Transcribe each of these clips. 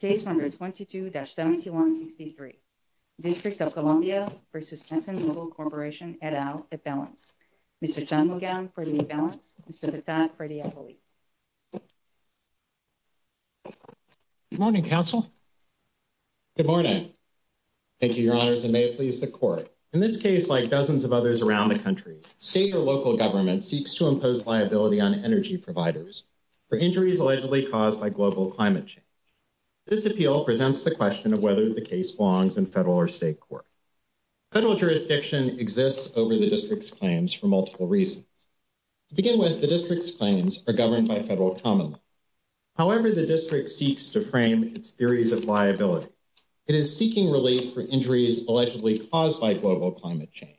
Case No. 22-7163, District of Columbia v. Exxon Mobil Corporation, et al., at balance. Mr. John McGowan for the balance, Mr. Tritaat for the appellate. Good morning, Council. Good morning. Thank you, Your Honors, and may it please the Court. In this case, like dozens of others around the country, state or local government seeks to impose liability on energy providers for injuries allegedly caused by global climate change. This appeal presents the question of whether the case belongs in federal or state court. Federal jurisdiction exists over the District's claims for multiple reasons. To begin with, the District's claims are governed by federal common law. However, the District seeks to frame its theories of liability. It is seeking relief for injuries allegedly caused by global climate change,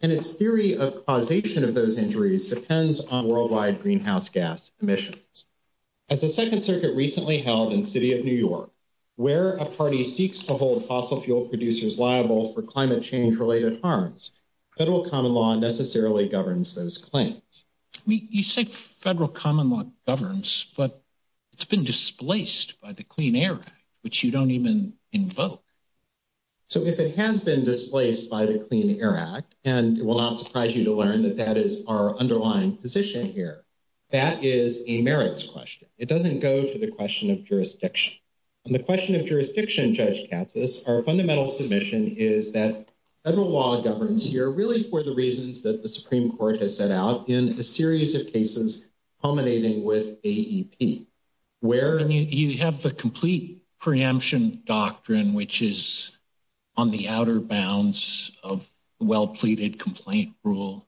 and its theory of causation of those injuries depends on worldwide greenhouse gas emissions. As the Second Circuit recently held in the City of New York, where a party seeks to hold fossil fuel producers liable for climate change-related harms, federal common law necessarily governs those claims. You say federal common law governs, but it's been displaced by the Clean Air Act, which you don't even invoke. So if it has been displaced by the Clean Air Act, and it will not surprise you to learn that that is our underlying position here, that is a merits question. It doesn't go to the question of jurisdiction. On the question of jurisdiction, Judge Katsas, our fundamental submission is that federal law governs here really for the reasons that the Supreme Court has set out in a series of cases culminating with AEP. Where you have the complete preemption doctrine, which is on the outer bounds of well-pleaded complaint rule.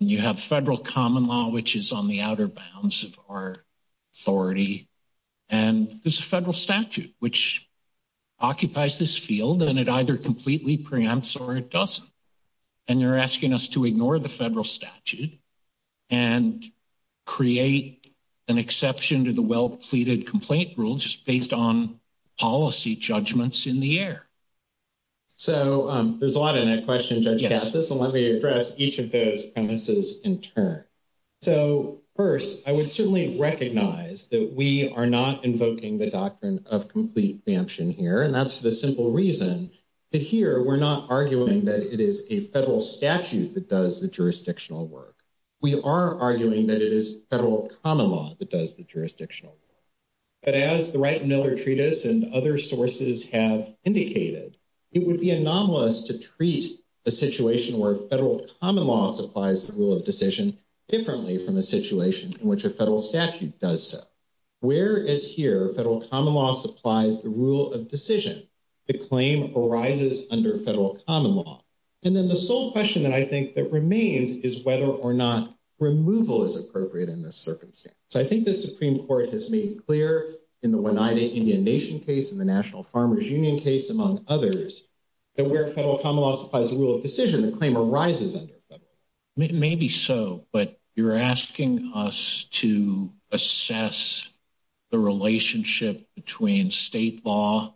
And you have federal common law, which is on the outer bounds of our authority. And there's a federal statute, which occupies this field, and it either completely preempts or it doesn't. And they're asking us to ignore the federal statute and create an exception to the well-pleaded complaint rule, just based on policy judgments in the air. So there's a lot in that question, Judge Katsas, and let me address each of those premises in turn. So first, I would certainly recognize that we are not invoking the doctrine of complete preemption here, and that's the simple reason that here we're not arguing that it is a federal statute that does the jurisdictional work. We are arguing that it is federal common law that does the jurisdictional work. But as the Wright and Miller Treatise and other sources have indicated, it would be anomalous to treat a situation where federal common law supplies the rule of decision differently from a situation in which a federal statute does so. Where is here federal common law supplies the rule of decision? The claim arises under federal common law. And then the sole question that I think that remains is whether or not removal is appropriate in this circumstance. So I think the Supreme Court has made clear in the Oneida Indian Nation case, in the National Farmers Union case, among others, that where federal common law supplies the rule of decision, the claim arises under federal law. Maybe so, but you're asking us to assess the relationship between state law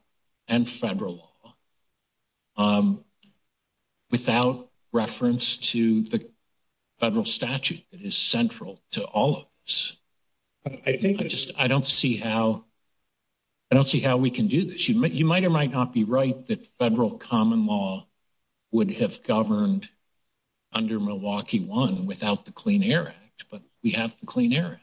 and federal law without reference to the federal statute that is central to all of this. I think I just, I don't see how, I don't see how we can do this. You might or might not be right that federal common law would have governed under Milwaukee 1 without the Clean Air Act, but we have the Clean Air Act.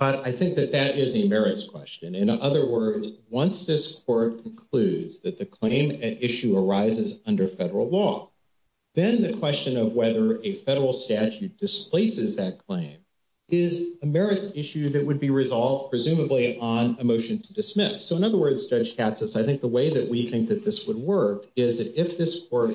I think that that is a merits question. In other words, once this court concludes that the claim at issue arises under federal law, then the question of whether a federal statute displaces that claim is a merits issue that would be resolved presumably on a motion to dismiss. So in other words, Judge Katsas, I think the way that we think that this would work is that if this court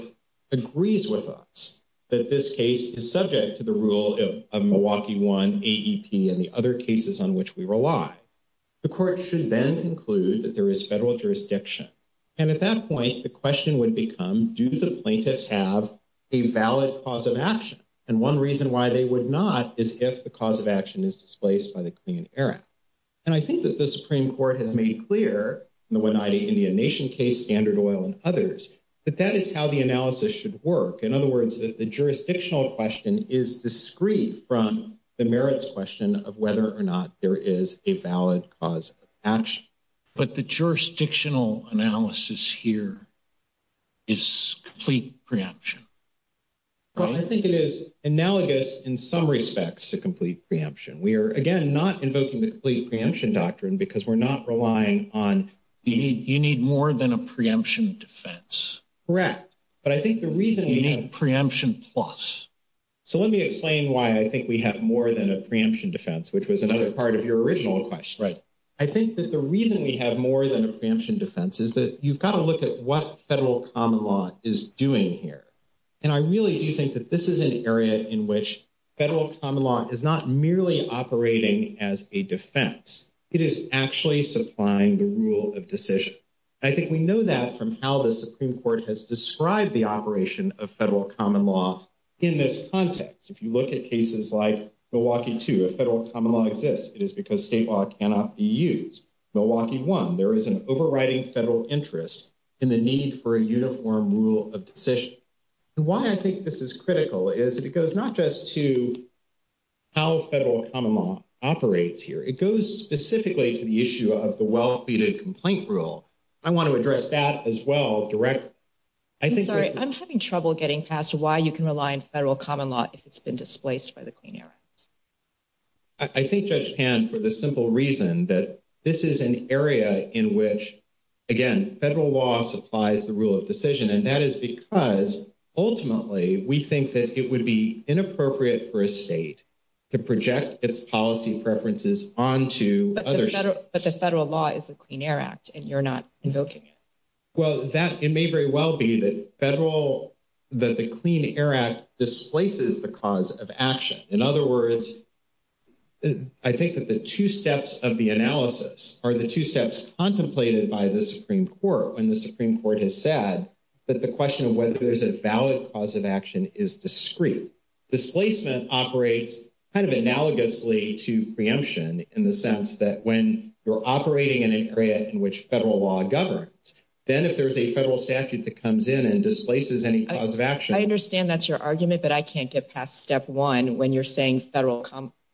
agrees with us that this case is subject to the rule of Milwaukee 1 AEP and the other cases on which we rely, the court should then conclude that there is federal jurisdiction. And at that point, the question would become, do the plaintiffs have a valid cause of action? And one reason why they would not is if the cause of action is displaced by the Clean Air Act. And I think that the Supreme Court has made clear in the Oneida Indian Nation case, Standard Oil and others, that that is how the analysis should work. In other words, the jurisdictional question is discreet from the merits question of whether or not there is a valid cause of action. But the jurisdictional analysis here is complete preemption. I think it is analogous in some respects to complete preemption. We are, again, not invoking the complete preemption doctrine because we're not relying on... You need more than a preemption defense. Correct. But I think the reason... You need preemption plus. So let me explain why I think we have more than a preemption defense, which was another part of your original question. Right. I think that the reason we have more than a preemption defense is that you've got to look at what federal common law is doing here. And I really do think that this is an area in which federal common law is not merely operating as a defense. It is actually supplying the rule of decision. And I think we know that from how the Supreme Court has described the operation of federal common law in this context. If you look at cases like Milwaukee 2, federal common law exists. It is because state law cannot be used. Milwaukee 1, there is an overriding federal interest in the need for a uniform rule of decision. And why I think this is critical is because not just to how federal common law operates here, it goes specifically to the issue of the well pleaded complaint rule. I want to address that as well directly. I'm sorry, I'm having trouble getting past why you can rely on federal common law if it's been displaced by the Clean Air Act. I think, Judge Pan, for the simple reason that this is an area in which, again, federal law supplies the rule of decision. And that is because, ultimately, we think that it would be inappropriate for a state to project its policy preferences onto other states. But the federal law is the Clean Air Act, and you're not invoking it. Well, it may very well be that the Clean Air Act displaces the cause of action. In other words, I think that the two steps of the analysis are the two steps contemplated by the Supreme Court when the Supreme Court has said that the question of whether there's a valid cause of action is discrete. Displacement operates kind of analogously to preemption in the sense that when you're operating in an area in which federal law governs, then if there's a federal statute that comes in and displaces any cause of action. I understand that's your argument, but I can't get past step one when you're saying federal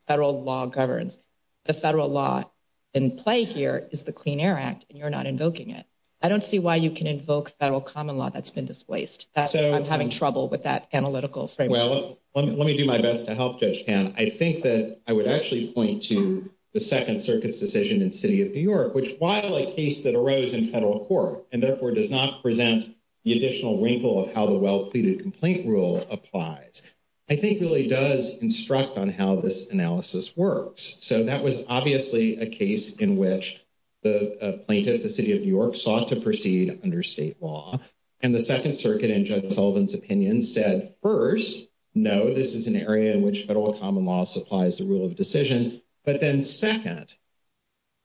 law governs. The federal law in play here is the Clean Air Act, and you're not invoking it. I don't see why you can invoke federal common law that's been displaced. I'm having trouble with that analytical framework. Well, let me do my best to help, Judge Pan. I think that I would actually point to the Second Circuit's decision in City of New York, which while a case that arose in federal court and therefore does not present the additional wrinkle of how the well-pleaded complaint rule applies, I think really does instruct on how this analysis works. So that was obviously a case in which the plaintiff, the City of New York, sought to proceed under state law. And the Second Circuit, in Judge Sullivan's opinion, said first, no, this is an area in which federal common law supplies the rule of decision. But then second,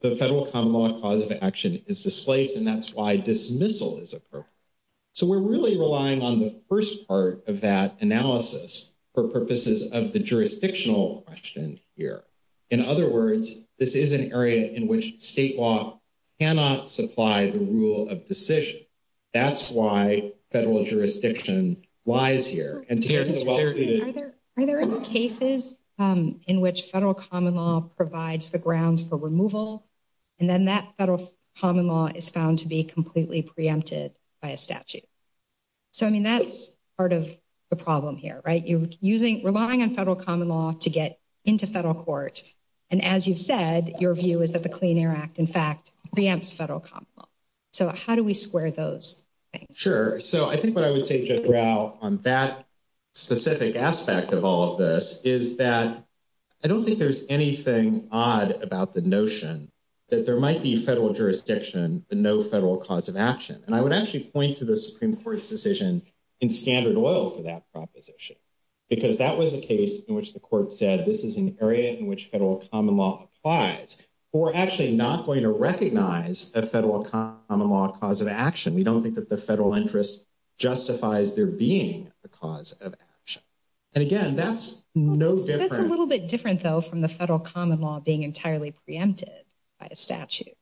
the federal common law cause of action is displaced, and that's why dismissal is appropriate. So we're really relying on the first part of that analysis for purposes of the jurisdictional question here. In other words, this is an area in which state law cannot supply the rule of decision. That's why federal jurisdiction lies here. Are there any cases in which federal common law provides the grounds for removal, and then that federal common law is found to be completely preempted by a statute? So I mean, that's part of the problem here, right? You're relying on federal common law to get into federal court. And as you've said, your view is that the Clean Air Act, in fact, preempts federal common law. So how do we square those things? Sure. So I think what I would say, Judge Rao, on that specific aspect of all of this is that I don't think there's anything odd about the notion that there might be federal jurisdiction, but no federal cause of action. And I would actually point to the Supreme Court's decision in Standard Oil for that proposition, because that was a case in which the court said this is an area in which federal common law applies. We're actually not going to recognize a federal common law cause of action. We don't think that the federal interest justifies there being a cause of action. And again, that's no different. That's a little bit different, though, from the federal common law being entirely preempted by a statute.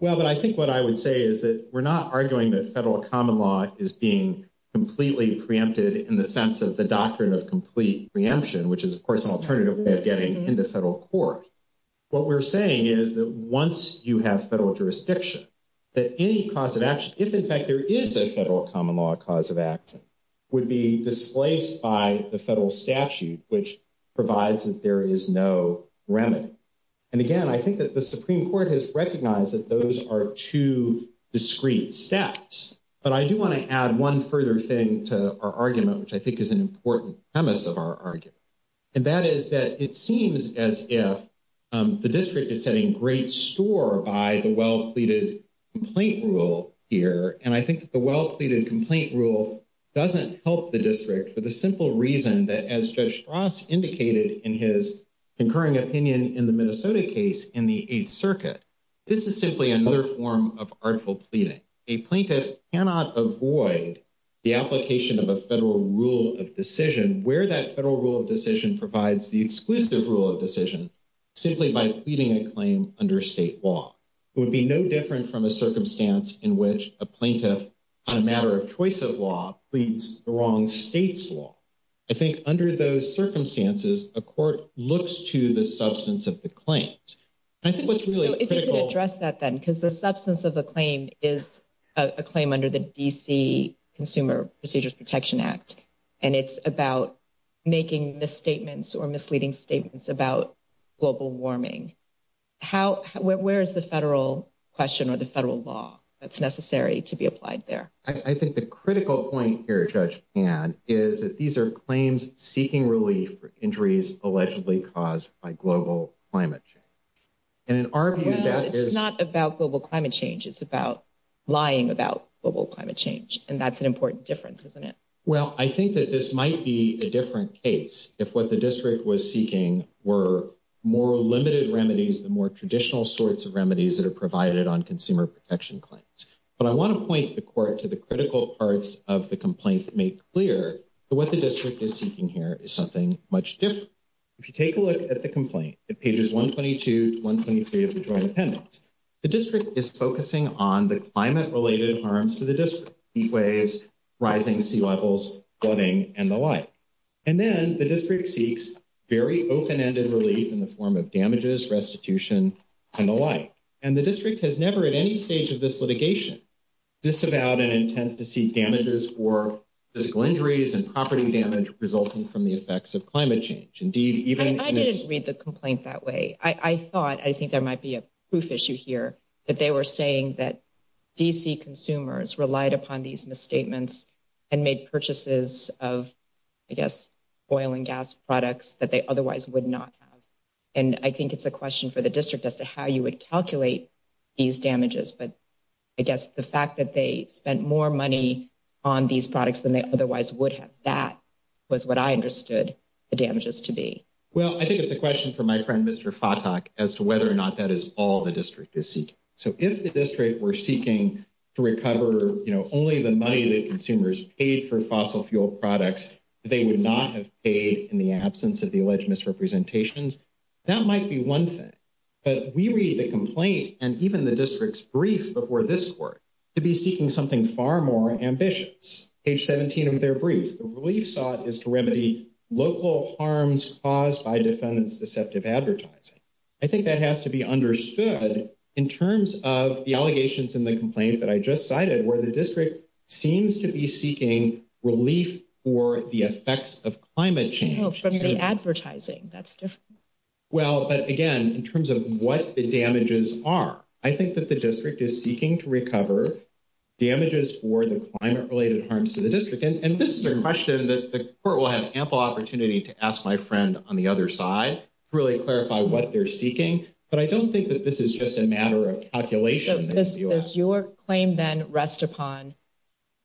Well, but I think what I would say is that we're not arguing that federal common law is being completely preempted in the sense of the doctrine of complete preemption, which is, of course, an alternative way of getting into federal court. What we're saying is that once you have federal jurisdiction, that any cause of action, if in fact there is a federal common law cause of action, would be displaced by the federal statute, which provides that there is no remedy. And again, I think that the Supreme Court has recognized that those are two discrete steps. But I do want to add one further thing to our argument, which I think is an important premise of our argument. And that is that it seems as if the district is setting great store by the well pleaded complaint rule here. And I think that the well pleaded complaint rule doesn't help the district for the simple reason that, as Judge Strauss indicated in his concurring opinion in the Minnesota case in the Eighth Circuit, this is simply another form of artful pleading. A plaintiff cannot avoid the application of a federal rule of decision where that federal rule of decision provides the exclusive rule of decision simply by pleading a claim under state law. It would be no different from a circumstance in which a plaintiff on a matter of choice of law pleads the wrong state's law. I think under those circumstances, a court looks to the substance of the claims. And I think what's really critical... So if you could address that then, because the D.C. Consumer Procedures Protection Act, and it's about making misstatements or misleading statements about global warming, where is the federal question or the federal law that's necessary to be applied there? I think the critical point here, Judge Pan, is that these are claims seeking relief for injuries allegedly caused by global climate change. And in our view, that is... And that's an important difference, isn't it? Well, I think that this might be a different case if what the district was seeking were more limited remedies, the more traditional sorts of remedies that are provided on consumer protection claims. But I want to point the court to the critical parts of the complaint made clear that what the district is seeking here is something much different. If you take a look at the complaint at pages 122 to 123 of the district, heat waves, rising sea levels, flooding, and the like. And then the district seeks very open-ended relief in the form of damages, restitution, and the like. And the district has never at any stage of this litigation disavowed an intent to seek damages for physical injuries and property damage resulting from the effects of climate change. Indeed, even... I didn't read the complaint that way. I thought, I think there might be a proof issue here, that they were saying that D.C. consumers relied upon these misstatements and made purchases of, I guess, oil and gas products that they otherwise would not have. And I think it's a question for the district as to how you would calculate these damages. But I guess the fact that they spent more money on these products than they otherwise would have, that was what I understood the damages to be. Well, I think it's a question for my friend, Mr. Fatak, as to whether or not that is all the So if the district were seeking to recover, you know, only the money that consumers paid for fossil fuel products they would not have paid in the absence of the alleged misrepresentations, that might be one thing. But we read the complaint and even the district's brief before this court to be seeking something far more ambitious. Page 17 of their brief, the relief sought is to remedy local harms caused by defendants' deceptive advertising. I think that has to be understood in terms of the allegations in the complaint that I just cited, where the district seems to be seeking relief for the effects of climate change. No, from the advertising, that's different. Well, but again, in terms of what the damages are, I think that the district is seeking to recover damages for the climate-related harms to the district. And this is a question that the court will have ample opportunity to ask my friend on the other side to really clarify what they're calculating. Does your claim then rest upon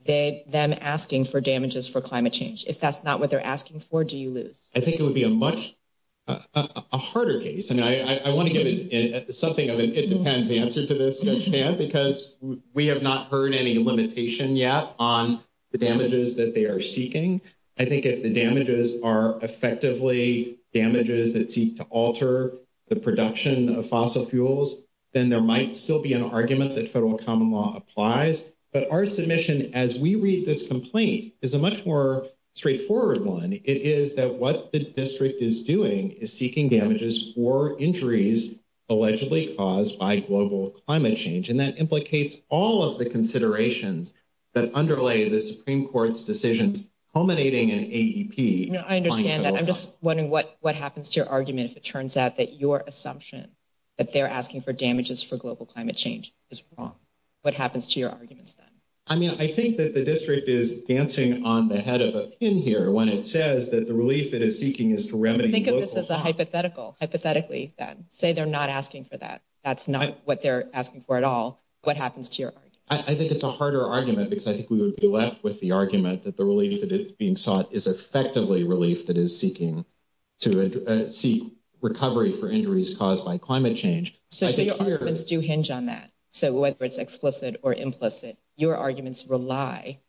them asking for damages for climate change? If that's not what they're asking for, do you lose? I think it would be a much harder case. And I want to give something of an it depends answer to this, because we have not heard any limitation yet on the damages that they are seeking. I think if the damages are effectively damages that seek to alter the production of fossil fuels, then there might still be an argument that federal common law applies. But our submission, as we read this complaint, is a much more straightforward one. It is that what the district is doing is seeking damages for injuries allegedly caused by global climate change. And that implicates all of the considerations that underlay the Supreme Court's decisions culminating in AEP. I'm just wondering what happens to your argument if it turns out that your assumption that they're asking for damages for global climate change is wrong. What happens to your arguments then? I mean, I think that the district is dancing on the head of a pin here when it says that the relief it is seeking is to remedy. Think of this as a hypothetical, hypothetically, then say they're not asking for that. That's not what they're asking for at all. What happens to your argument? I think it's a harder argument, because I think we would be left with the argument that the relief that is being sought is effectively relief that is seeking to seek recovery for injuries caused by climate change. So your arguments do hinge on that. So whether it's explicit or implicit, your arguments rely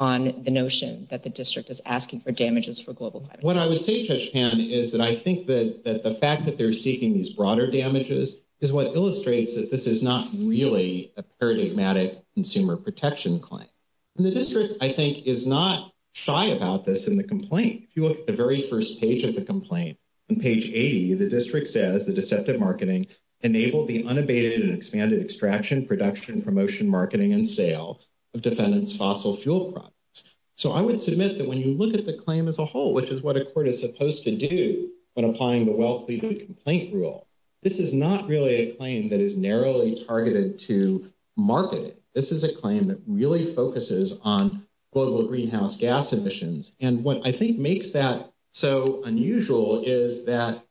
on the notion that the district is asking for damages for global climate change. What I would say, Judge Pan, is that I think that the fact that they're seeking these broader damages is what illustrates that this is not really a paradigmatic consumer protection claim. And the district, I think, is not shy about this in the complaint. If you look at the very first page of the complaint, on page 80, the district says the deceptive marketing enabled the unabated and expanded extraction, production, promotion, marketing, and sale of defendants' fossil fuel products. So I would submit that when you look at the claim as a whole, which is what a court is supposed to do when applying the well-cleaned complaint rule, this is not really a claim that is narrowly targeted to marketing. This is a claim that really focuses on global greenhouse gas emissions. And what I think makes that so unusual is that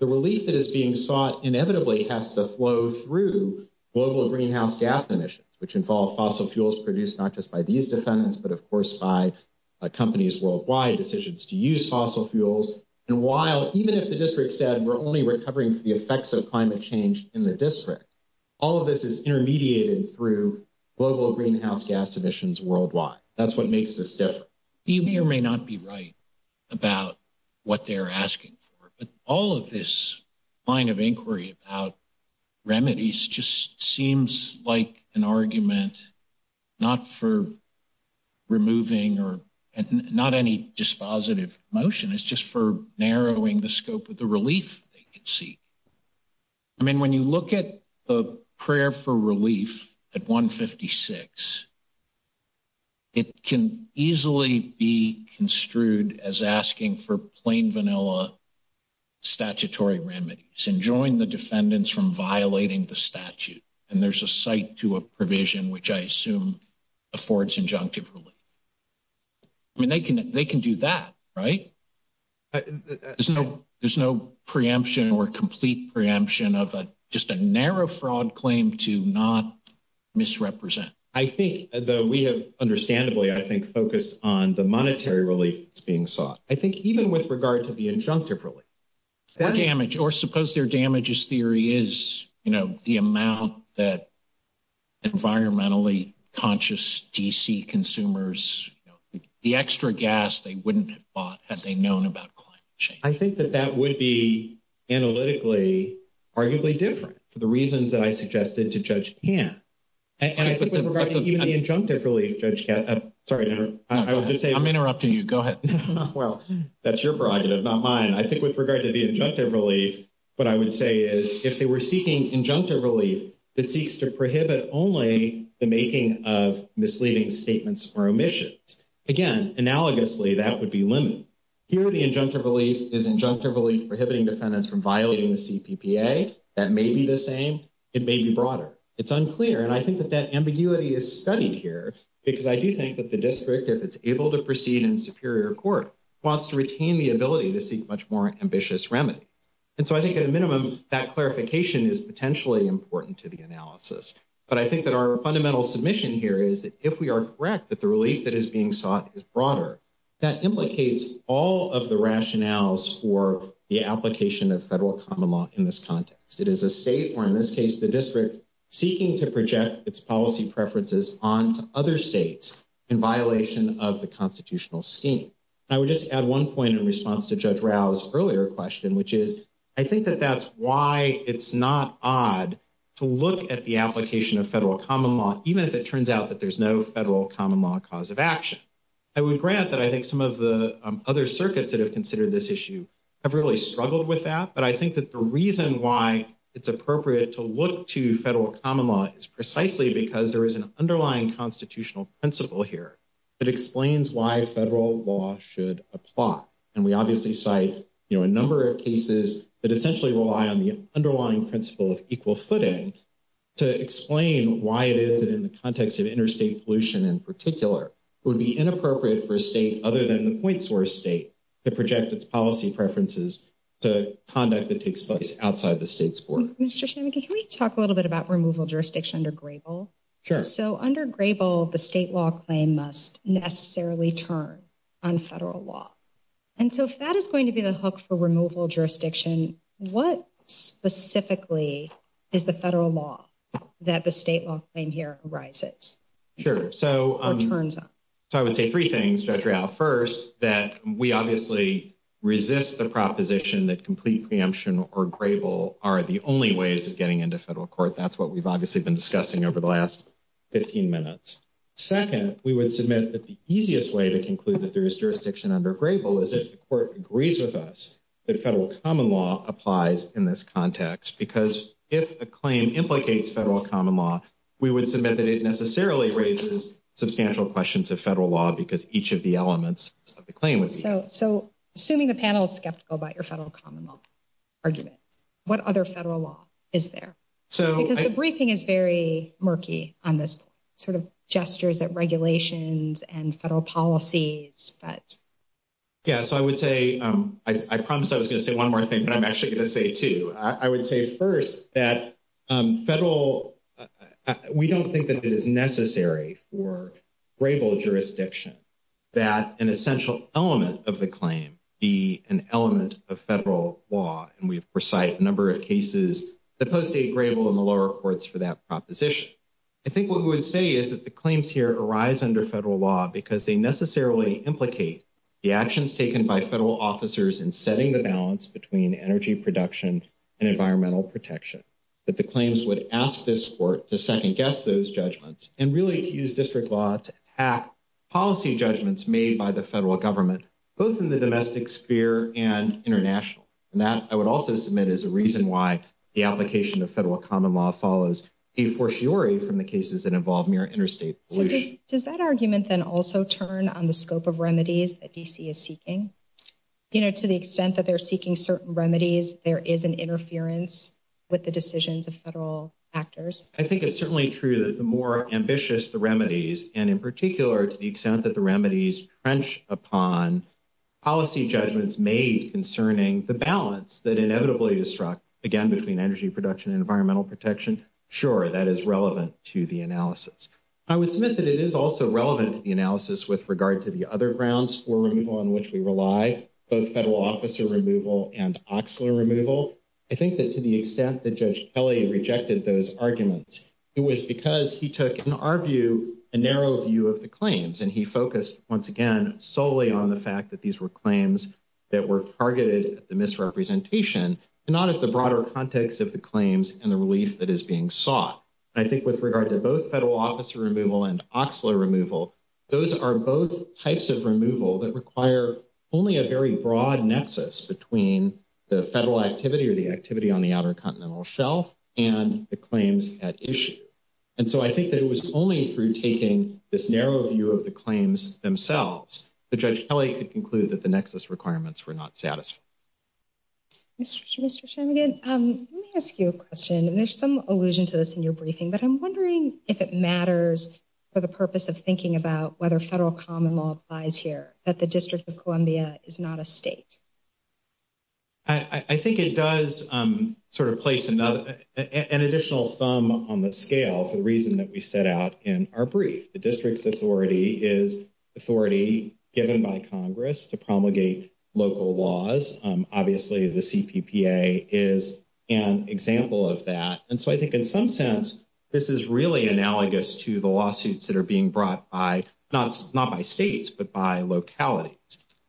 the relief that is being sought inevitably has to flow through global greenhouse gas emissions, which involve fossil fuels produced not just by these defendants, but of course by companies worldwide decisions to use fossil fuels. And while even if the district said we're only recovering for the effects of climate change in the district, all of this is intermediated through global greenhouse gas emissions worldwide. That's what makes this different. You may or may not be right about what they're asking for, but all of this line of inquiry about remedies just seems like an argument not for removing or not any dispositive motion, it's just for narrowing the scope of the relief they can seek. I mean, when you look at the prayer for relief at 156, it can easily be construed as asking for statutory remedies and join the defendants from violating the statute. And there's a site to a provision, which I assume affords injunctive relief. I mean, they can do that, right? There's no preemption or complete preemption of a just a narrow fraud claim to not misrepresent. I think that we have understandably, I think, focus on the monetary relief that's being sought. I think even with regard to the injunctive relief, damage, or suppose their damages theory is, you know, the amount that environmentally conscious DC consumers, the extra gas they wouldn't have bought had they known about climate change. I think that that would be analytically, arguably different for the reasons that I suggested to Judge Tan. And I think with regard to the injunctive relief, Judge Tan, sorry, I will just say, I'm interrupting you. Go ahead. Well, that's your prerogative, not mine. I think with regard to the injunctive relief, what I would say is if they were seeking injunctive relief, it seeks to prohibit only the making of misleading statements or omissions. Again, analogously, that would be limited. Here, the injunctive relief is injunctive relief prohibiting defendants from violating the CPPA. That may be the same. It may be broader. It's unclear. And I think that that ambiguity is studied here because I do think that the district, if it's able to proceed in wants to retain the ability to seek much more ambitious remedies. And so I think at a minimum, that clarification is potentially important to the analysis. But I think that our fundamental submission here is that if we are correct, that the relief that is being sought is broader. That implicates all of the rationales for the application of federal common law in this context. It is a state, or in this case, the district seeking to project its policy preferences onto other states in violation of the constitutional scheme. I would just add one point in response to Judge Rao's earlier question, which is I think that that's why it's not odd to look at the application of federal common law, even if it turns out that there's no federal common law cause of action. I would grant that I think some of the other circuits that have considered this issue have really struggled with that. But I think that the reason why it's appropriate to look to federal common law is precisely because there is an underlying constitutional principle here that explains why federal law should apply. And we obviously cite, you know, a number of cases that essentially rely on the underlying principle of equal footing to explain why it is that in the context of interstate pollution in particular, it would be inappropriate for a state other than the point source state to project its policy preferences to conduct that takes place outside the state's board. Mr. Shanmugi, can we talk a little bit about removal jurisdiction under Grable? Sure. So under Grable, the state law claim must necessarily turn on federal law. And so if that is going to be the hook for removal jurisdiction, what specifically is the federal law that the state law claim here arises? Sure. So I would say three things, Judge Rial. First, that we obviously resist the proposition that complete preemption or Grable are the only ways of getting into federal court. That's what we've obviously been discussing over the last 15 minutes. Second, we would submit that the easiest way to conclude that there is jurisdiction under Grable is if the court agrees with us that federal common law applies in this context. Because if a claim implicates federal common law, we would submit that it necessarily raises substantial questions of federal law because each of the elements of the claim. So assuming the panel is skeptical about your federal common law argument, what other federal law is there? Because the briefing is very murky on this sort of gestures at regulations and federal policies. Yeah. So I would say, I promised I was going to say one more thing, but I'm actually going to say two. I would say first that we don't think that it is necessary for Grable jurisdiction that an essential element of the claim be an element of federal law. And we've recited a number of cases that post-date Grable in the lower courts for that proposition. I think what we would say is that the claims here arise under federal law because they necessarily implicate the actions taken by federal officers in setting the balance between energy production and environmental protection. That the claims would ask this court to second guess those judgments and really to use district law to attack policy judgments made by the federal government, both in the domestic sphere and international. And that I would also submit as a reason why the application of federal common law follows a fortiori from the cases that involve mere interstate pollution. So does that argument then also turn on the scope of remedies that DC is seeking? You know, to the extent that they're seeking certain remedies, there is an interference with the decisions of federal actors. I think it's certainly true that the more ambitious the remedies and in particular to the extent that the remedies trench upon policy judgments made concerning the balance that inevitably is struck again between energy production and environmental protection. Sure. That is relevant to the analysis. I would submit that it is also relevant to the which we rely both federal officer removal and oxler removal. I think that to the extent that Judge Kelly rejected those arguments, it was because he took in our view a narrow view of the claims and he focused once again solely on the fact that these were claims that were targeted at the misrepresentation and not at the broader context of the claims and the relief that is being sought. I think with regard to both federal officer removal and oxler removal, those are both types of removal that require only a very broad nexus between the federal activity or the activity on the Outer Continental Shelf and the claims at issue. And so I think that it was only through taking this narrow view of the claims themselves that Judge Kelly could conclude that the nexus requirements were not satisfied. Mr. Chamigan, let me ask you a question and there's some allusion to this in your briefing, but I'm wondering if it matters for the purpose of thinking about whether federal common law applies here, that the District of Columbia is not a state. I think it does sort of place an additional thumb on the scale for the reason that we set out in our brief. The District's authority is authority given by Congress to promulgate local laws. Obviously, the CPPA is an example of that. And so I think in some sense, this is really analogous to the states, not by states, but by localities.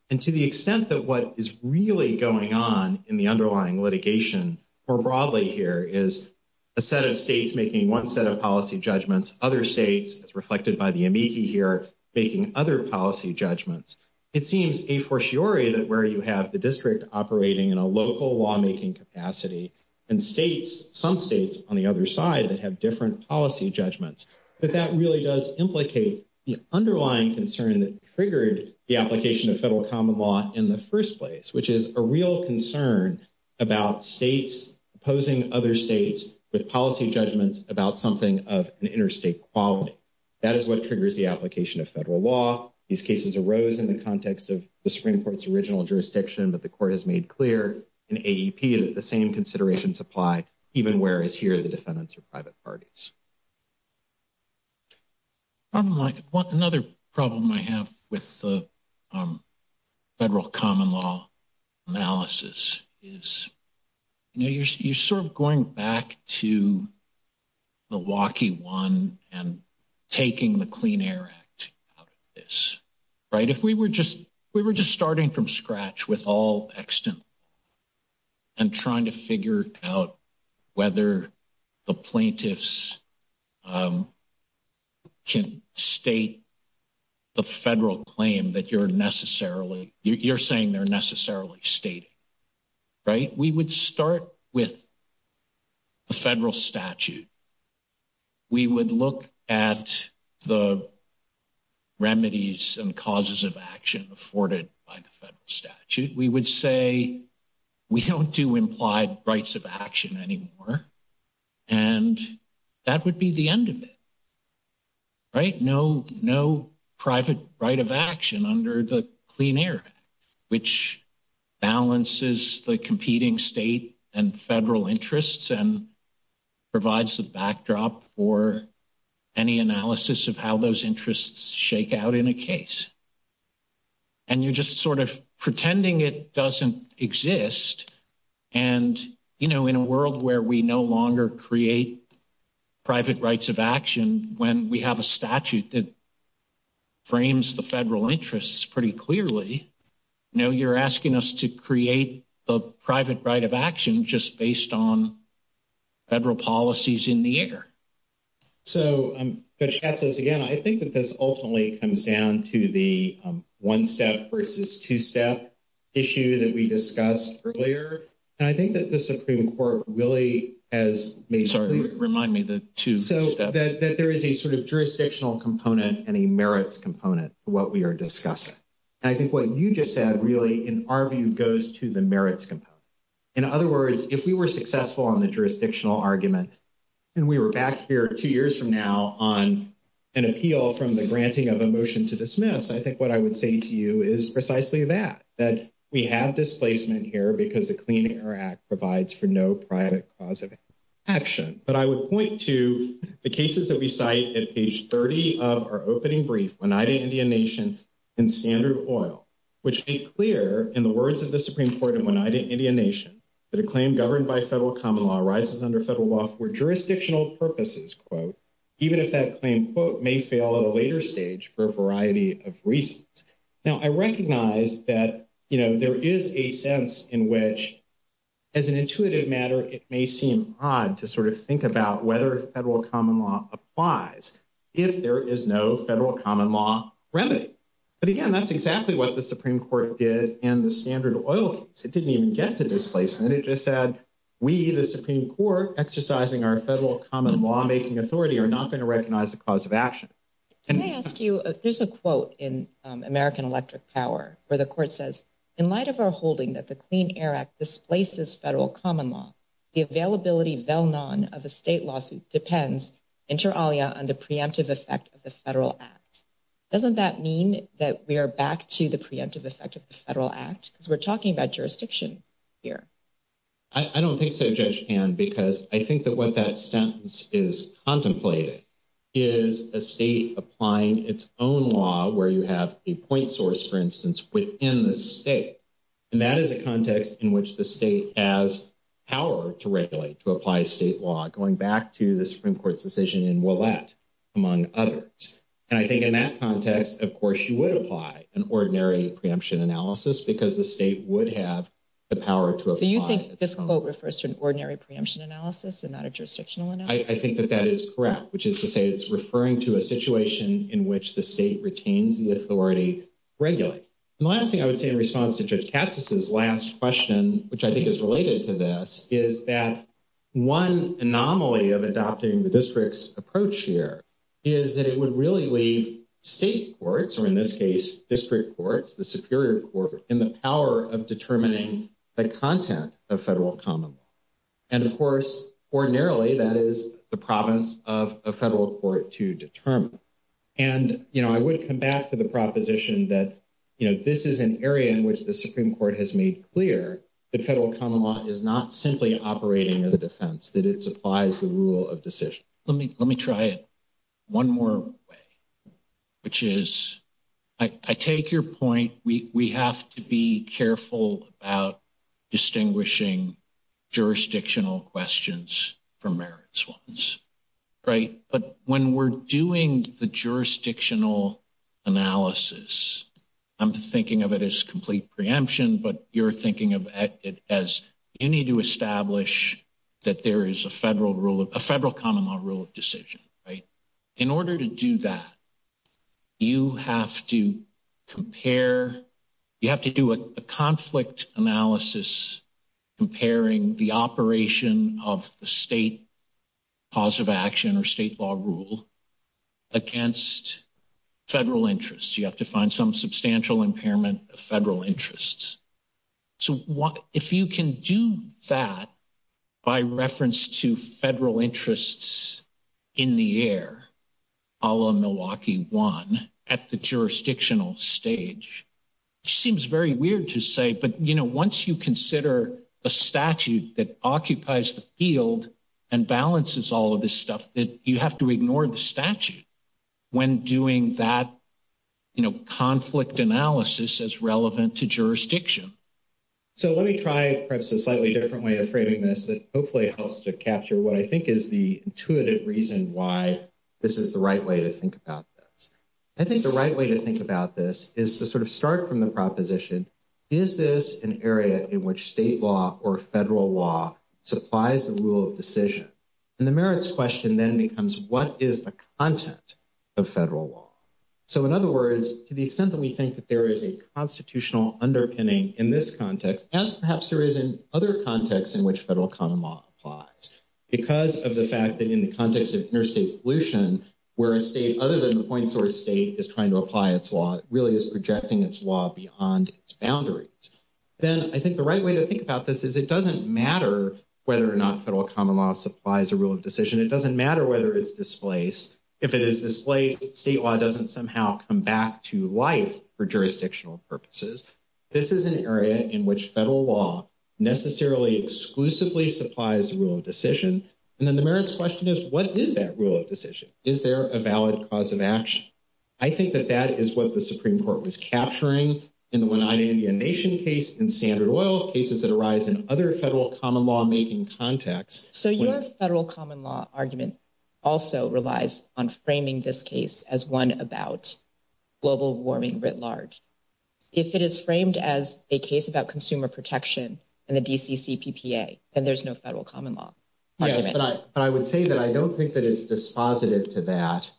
And to the extent that what is really going on in the underlying litigation more broadly here is a set of states making one set of policy judgments, other states, as reflected by the amici here, making other policy judgments. It seems a fortiori that where you have the district operating in a local lawmaking capacity and some states on the other side that have different policy judgments, that that really does implicate the underlying concern that triggered the application of federal common law in the first place, which is a real concern about states opposing other states with policy judgments about something of an interstate quality. That is what triggers the application of federal law. These cases arose in the context of the Supreme Court's original jurisdiction, but the Court has made clear in AEP that the same considerations apply even whereas here the defendants are private parties. Another problem I have with the federal common law analysis is, you know, you're sort of going back to Milwaukee one and taking the Clean Air Act out of this, right? If we were just starting from scratch with all extant law and trying to figure out whether the plaintiffs can state the federal claim that you're necessarily, you're saying they're necessarily stating, right? We would start with the federal statute. We would look at the federal statute. We would say we don't do implied rights of action anymore, and that would be the end of it, right? No private right of action under the Clean Air Act, which balances the competing state and federal interests and provides the backdrop for any analysis of how those interests shake out in a case. And you're just sort of pretending it doesn't exist, and, you know, in a world where we no longer create private rights of action when we have a statute that frames the federal interests pretty clearly, you know, you're asking us to create the private right of action just based on policies in the air. So, Judge Katz says again, I think that this ultimately comes down to the one-step versus two-step issue that we discussed earlier, and I think that the Supreme Court really has made... Sorry, remind me the two-step. So, that there is a sort of jurisdictional component and a merits component to what we are discussing. And I think what you just said really, in our view, goes to the merits component. In other words, if we were successful on the jurisdictional argument, and we were back here two years from now on an appeal from the granting of a motion to dismiss, I think what I would say to you is precisely that, that we have displacement here because the Clean Air Act provides for no private cause of action. But I would point to the cases that we cite at page 30 of our opening brief, Oneida Indian Nation and Standard Oil, which make clear, in the words of the Supreme Court in Oneida Indian Nation, that a claim governed by federal common law arises under federal law for jurisdictional purposes, quote, even if that claim, quote, may fail at a later stage for a variety of reasons. Now, I recognize that there is a sense in which, as an intuitive matter, it may seem odd to sort of think about whether federal common law applies if there is no federal common law remedy. But again, that's exactly what the Supreme Court did in the Standard Oil case. It didn't even get to displacement. It just said, we, the Supreme Court, exercising our federal common lawmaking authority, are not going to recognize the cause of action. Can I ask you, there's a quote in American Electric Power where the court says, in light of our holding that the Clean Air Act displaces federal common law, the availability of a state lawsuit depends, inter alia, on the preemptive effect of the federal act. Doesn't that mean that we are back to the preemptive effect of federal act? Because we're talking about jurisdiction here. I don't think so, Judge Ann, because I think that what that sentence is contemplating is a state applying its own law where you have a point source, for instance, within the state. And that is a context in which the state has power to regulate, to apply state law, going back to the Supreme Court's decision in Willett, among others. And I think that that is correct, which is to say it's referring to a situation in which the state retains the authority to regulate. The last thing I would say in response to Judge Katz's last question, which I think is related to this, is that one anomaly of adopting the district's approach here is that it would really leave state courts, or in this case district courts, the superior court, in the power of determining the content of federal common law. And, of course, ordinarily, that is the province of a federal court to determine. And, you know, I would come back to the proposition that, you know, this is an area in which the Supreme Court has made clear that federal common law is not simply operating as a defense, that it supplies the rule of decision. Let me try it one more way, which is, I take your point, we have to be careful about distinguishing jurisdictional questions from merits ones, right? But when we're doing the jurisdictional analysis, I'm thinking of it as complete preemption, but you're thinking of it as you need to establish that there is a federal rule of, a federal common law rule of decision, right? In order to do that, you have to compare, you have to do a conflict analysis comparing the operation of the state cause of action or state law rule against federal interests. You have to find some substantial impairment of federal interests. So, if you can do that by reference to federal interests in the air, ala Milwaukee one, at the jurisdictional stage, it seems very weird to say, but, you know, once you consider a statute that occupies the field and balances all of this stuff that you have to ignore the statute when doing that, you know, conflict analysis as relevant to jurisdiction. So, let me try perhaps a slightly different way of framing this that hopefully helps to capture what I think is the intuitive reason why this is the right way to think about this. I think the right way to think about this is to sort of start from the proposition, is this an area in which state law or federal law supplies the rule of decision? And the merits question then becomes, what is the content of federal law? So, in other words, to the extent that we think that there is a constitutional underpinning in this context, as perhaps there is in other contexts in which federal common law applies, because of the fact that in the context of interstate pollution, where a state, other than the point source state, is trying to apply its law, it really is projecting its law beyond its boundaries. Then I think the right way to think about this is it doesn't matter whether or not federal common law supplies a rule of decision. It doesn't matter whether it's displaced. If it is displaced, state law doesn't somehow come back to life for jurisdictional purposes. This is an area in which federal law necessarily exclusively supplies the rule of decision. And then the is what the Supreme Court was capturing in the One-Eyed Indian Nation case, in Standard Oil, cases that arise in other federal common law-making contexts. So, your federal common law argument also relies on framing this case as one about global warming writ large. If it is framed as a case about consumer protection and the DCCPPA, then there's no federal common law. Yes, but I would say that I don't think that it's dispositive to that,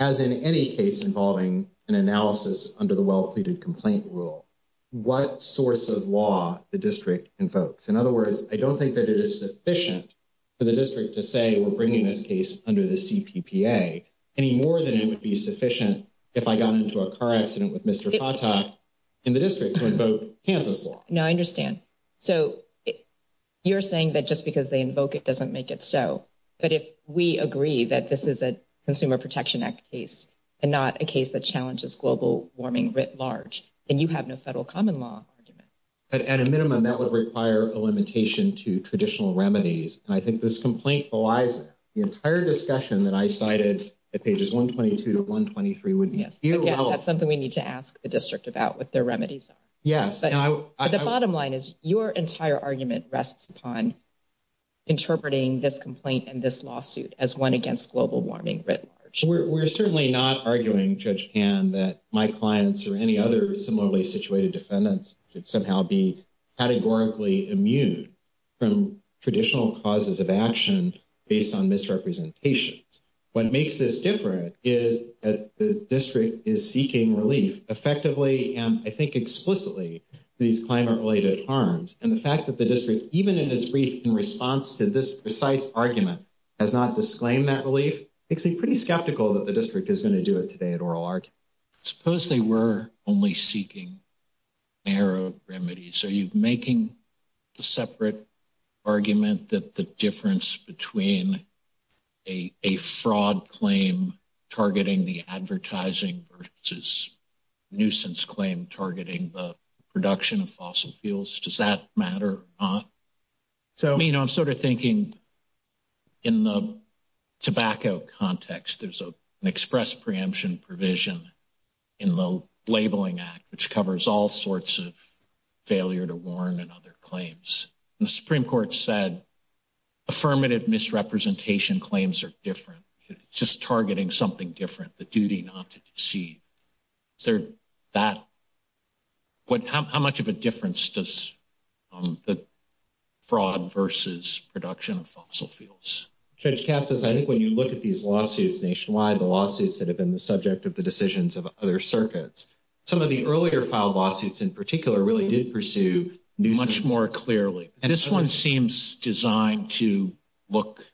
as in any case involving an analysis under the well-pleaded complaint rule, what source of law the district invokes. In other words, I don't think that it is sufficient for the district to say, we're bringing this case under the CPPPA, any more than it would be sufficient if I got into a car accident with Mr. Fatah in the district to invoke Kansas law. No, I understand. So, you're saying that just because they invoke it doesn't make it so. But if we agree that this is a Consumer Protection Act case, and not a case that challenges global warming writ large, then you have no federal common law argument. At a minimum, that would require a limitation to traditional remedies. And I think this complaint belies the entire discussion that I cited at pages 122 to 123. Again, that's something we need to ask the district about, what their remedies are. But the bottom line is, your entire argument rests upon interpreting this complaint and this warming writ large. We're certainly not arguing, Judge Pan, that my clients or any other similarly situated defendants should somehow be categorically immune from traditional causes of action based on misrepresentations. What makes this different is that the district is seeking relief, effectively and I think explicitly, these climate-related harms. And the fact that the district, even in response to this precise argument, has not disclaimed that relief makes me pretty skeptical that the district is going to do it today at oral argument. Suppose they were only seeking narrow remedies. Are you making a separate argument that the difference between a fraud claim targeting the advertising versus nuisance claim targeting the production of fossil fuels, does that matter? I mean, I'm sort of thinking in the tobacco context, there's an express preemption provision in the Labeling Act, which covers all sorts of failure to warn and other claims. The Supreme Court said affirmative misrepresentation claims are different. It's just targeting something different, the duty not to deceive. Is there that, what, how much of a difference does the fraud versus production of fossil fuels? Judge Katz says I think when you look at these lawsuits nationwide, the lawsuits that have been the subject of the decisions of other circuits, some of the earlier filed lawsuits in particular really did pursue nuisance. Much more clearly. This one seems designed to look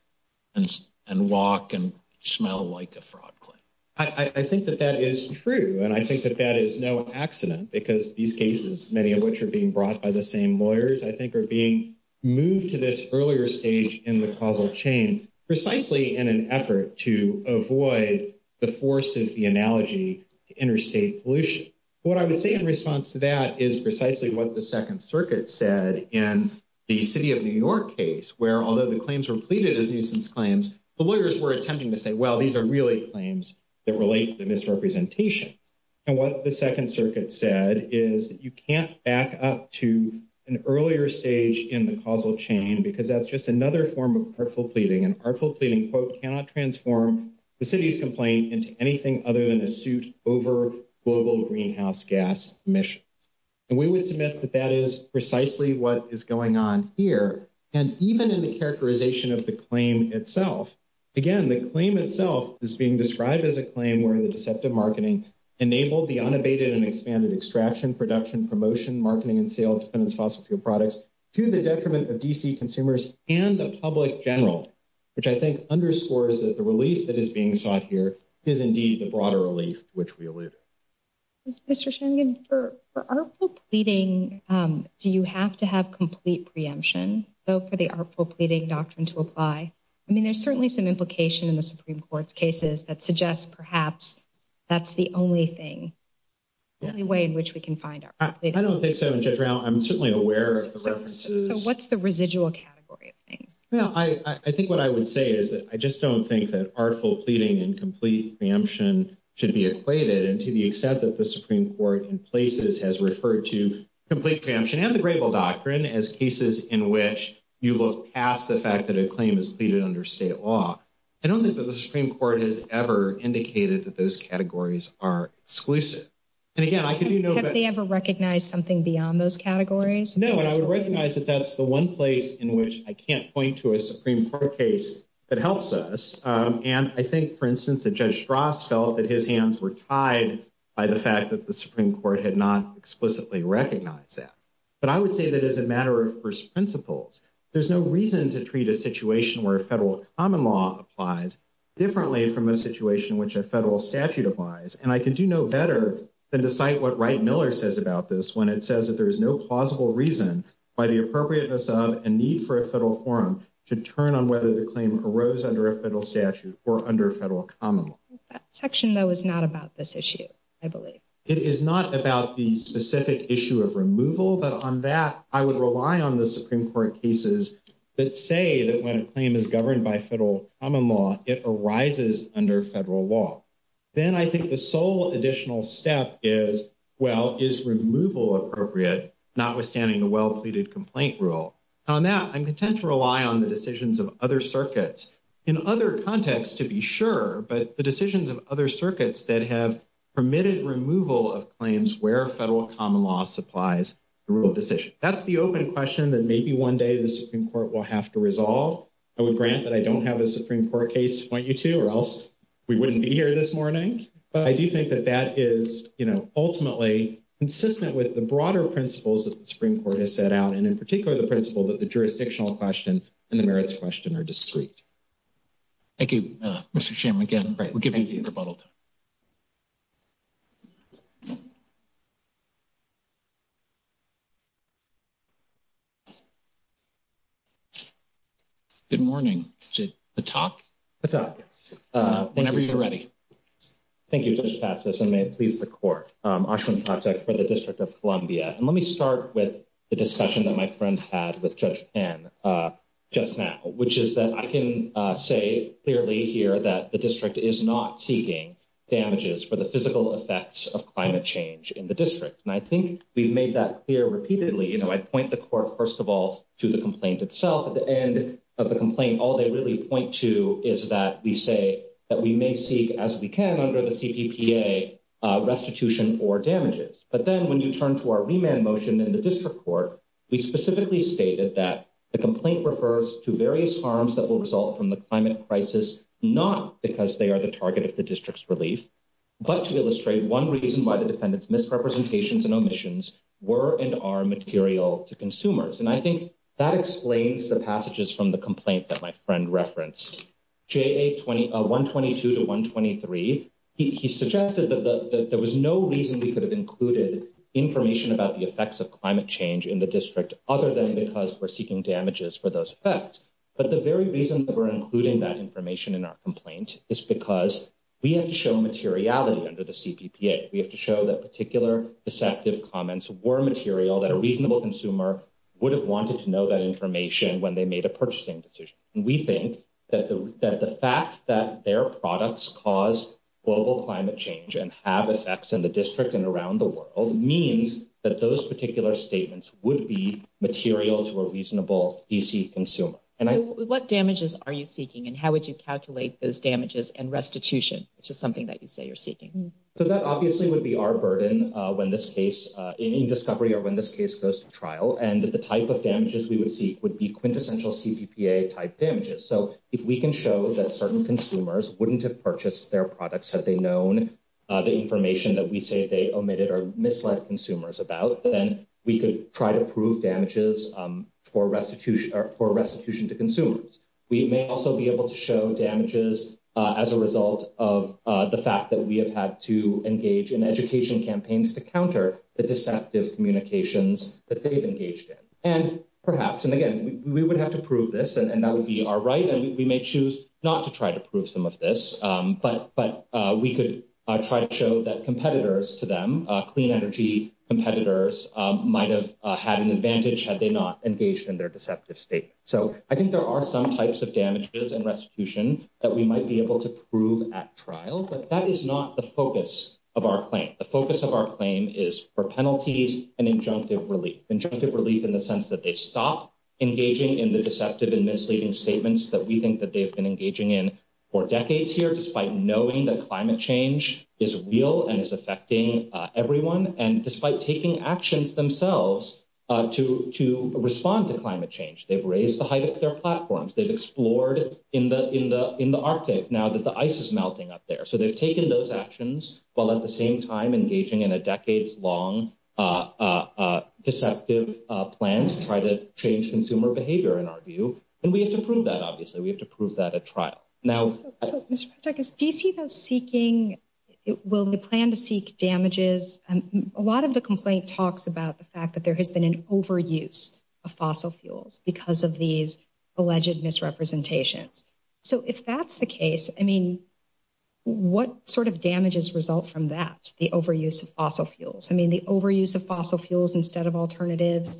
and walk and smell like a fraud claim. I think that that is true. And I think that that is no accident because these cases, many of which are being brought by the same lawyers, I think are being moved to this earlier stage in the causal chain, precisely in an effort to avoid the force of the analogy to interstate pollution. What I would say in response to that is precisely what the Second Circuit said in the city of New York case, where although the claims were pleaded as nuisance claims, the lawyers were attempting to say, well, these are really claims that relate to the misrepresentation. And what the Second Circuit said is that you can't back up to an earlier stage in the causal chain because that's just another form of artful pleading. An artful pleading, quote, cannot transform the city's over global greenhouse gas emission. And we would submit that that is precisely what is going on here. And even in the characterization of the claim itself, again, the claim itself is being described as a claim where the deceptive marketing enabled the unabated and expanded extraction, production, promotion, marketing, and sale of dependent fossil fuel products to the detriment of D.C. consumers and the public general, which I think underscores that the relief that is being sought here is indeed the broader relief, which we alluded. Mr. Shanigan, for artful pleading, do you have to have complete preemption, though, for the artful pleading doctrine to apply? I mean, there's certainly some implication in the Supreme Court's cases that suggests perhaps that's the only thing, the only way in which we can find artful pleading. I don't think so, Judge Rao. I'm certainly aware of the references. So what's the residual category of things? Well, I think what I would say is that I just don't think that artful pleading and complete preemption should be equated. And to the extent that the Supreme Court in places has referred to complete preemption and the grable doctrine as cases in which you look past the fact that a claim is pleaded under state law, I don't think that the Supreme Court has ever indicated that those categories are exclusive. And again, I could do no better. Have they ever recognized something beyond those categories? No. And I would recognize that that's the one place in which I can't point to a Supreme Court case that helps us. And I think, for instance, that Judge Strauss felt that his hands were tied by the fact that the Supreme Court had not explicitly recognized that. But I would say that as a matter of first principles, there's no reason to treat a situation where a federal common law applies differently from a situation in which a federal statute applies. And I could do no better than to cite what Wright Miller says about this when it should turn on whether the claim arose under a federal statute or under federal common law. That section, though, is not about this issue, I believe. It is not about the specific issue of removal. But on that, I would rely on the Supreme Court cases that say that when a claim is governed by federal common law, it arises under federal law. Then I think the sole additional step is, well, is removal appropriate, notwithstanding a well-pleaded complaint rule. On that, I'm content to rely on the decisions of other circuits, in other contexts, to be sure, but the decisions of other circuits that have permitted removal of claims where federal common law supplies the rule of decision. That's the open question that maybe one day the Supreme Court will have to resolve. I would grant that I don't have a Supreme Court case to point you to, or else we wouldn't be here this morning. But I do think that that is ultimately consistent with the Supreme Court has set out, and in particular, the principle that the jurisdictional question and the merits question are discrete. Thank you, Mr. Shim. Again, we'll give you a rebuttal. Good morning. Is it a talk? A talk, yes. Whenever you're ready. Thank you, Judge Patsos, and may it please the Court. Ashwin Patek for the District of Columbia. Let me start with the discussion that my friend had with Judge Tan just now, which is that I can say clearly here that the District is not seeking damages for the physical effects of climate change in the District. I think we've made that clear repeatedly. I point the Court, first of all, to the complaint itself. At the end of the complaint, all they really point to is that we say that we may seek, as we can under the CPPA, restitution or damages. But then when you turn to our remand motion in the District Court, we specifically stated that the complaint refers to various harms that will result from the climate crisis, not because they are the target of the District's relief, but to illustrate one reason why the defendant's misrepresentations and omissions were and are material to consumers. I think that explains the passages from the complaint that my friend referenced, JA 122 to 123. He suggested that there was no reason we could have included information about the effects of climate change in the District other than because we're seeking damages for those effects. But the very reason that we're including that information in our complaint is because we have to show materiality under the CPPA. We have to show that particular deceptive comments were material that a reasonable consumer would have wanted to know that information when they made a purchasing decision. And we think that the fact that their products cause global climate change and have effects in the District and around the world means that those particular statements would be material to a reasonable DC consumer. What damages are you seeking and how would you calculate those damages and restitution, which is something that you say you're seeking? So that obviously would be our burden in this case in discovery or when this case goes to trial. And the type of damages we would seek would be quintessential CPPA-type damages. So if we can show that certain consumers wouldn't have purchased their products had they known the information that we say they omitted or misled consumers about, then we could try to prove damages for restitution to consumers. We may also be able to show damages as a result of the fact that we have had to engage in education campaigns to counter the deceptive communications that they've engaged in. And perhaps, and again, we would have to prove this and that would be our right. And we may choose not to try to prove some of this, but we could try to show that competitors to them, clean energy competitors, might have had an advantage had they not engaged in their deceptive statement. So I think there are some types of damages and restitution that we might be able to prove at trial, but that is not the focus of our claim. The focus of our claim is penalties and injunctive relief. Injunctive relief in the sense that they stop engaging in the deceptive and misleading statements that we think that they've been engaging in for decades here, despite knowing that climate change is real and is affecting everyone, and despite taking actions themselves to respond to climate change. They've raised the height of their platforms. They've explored in the Arctic now that the ice is melting up there. So they've taken those actions while at the same time engaging in a decades-long deceptive plan to try to change consumer behavior, in our view. And we have to prove that, obviously. We have to prove that at trial. Now, Mr. Patrakis, do you see those seeking, will they plan to seek damages? A lot of the complaint talks about the fact that there has been an overuse of fossil fuels because of these overuse of fossil fuels. I mean, the overuse of fossil fuels instead of alternatives,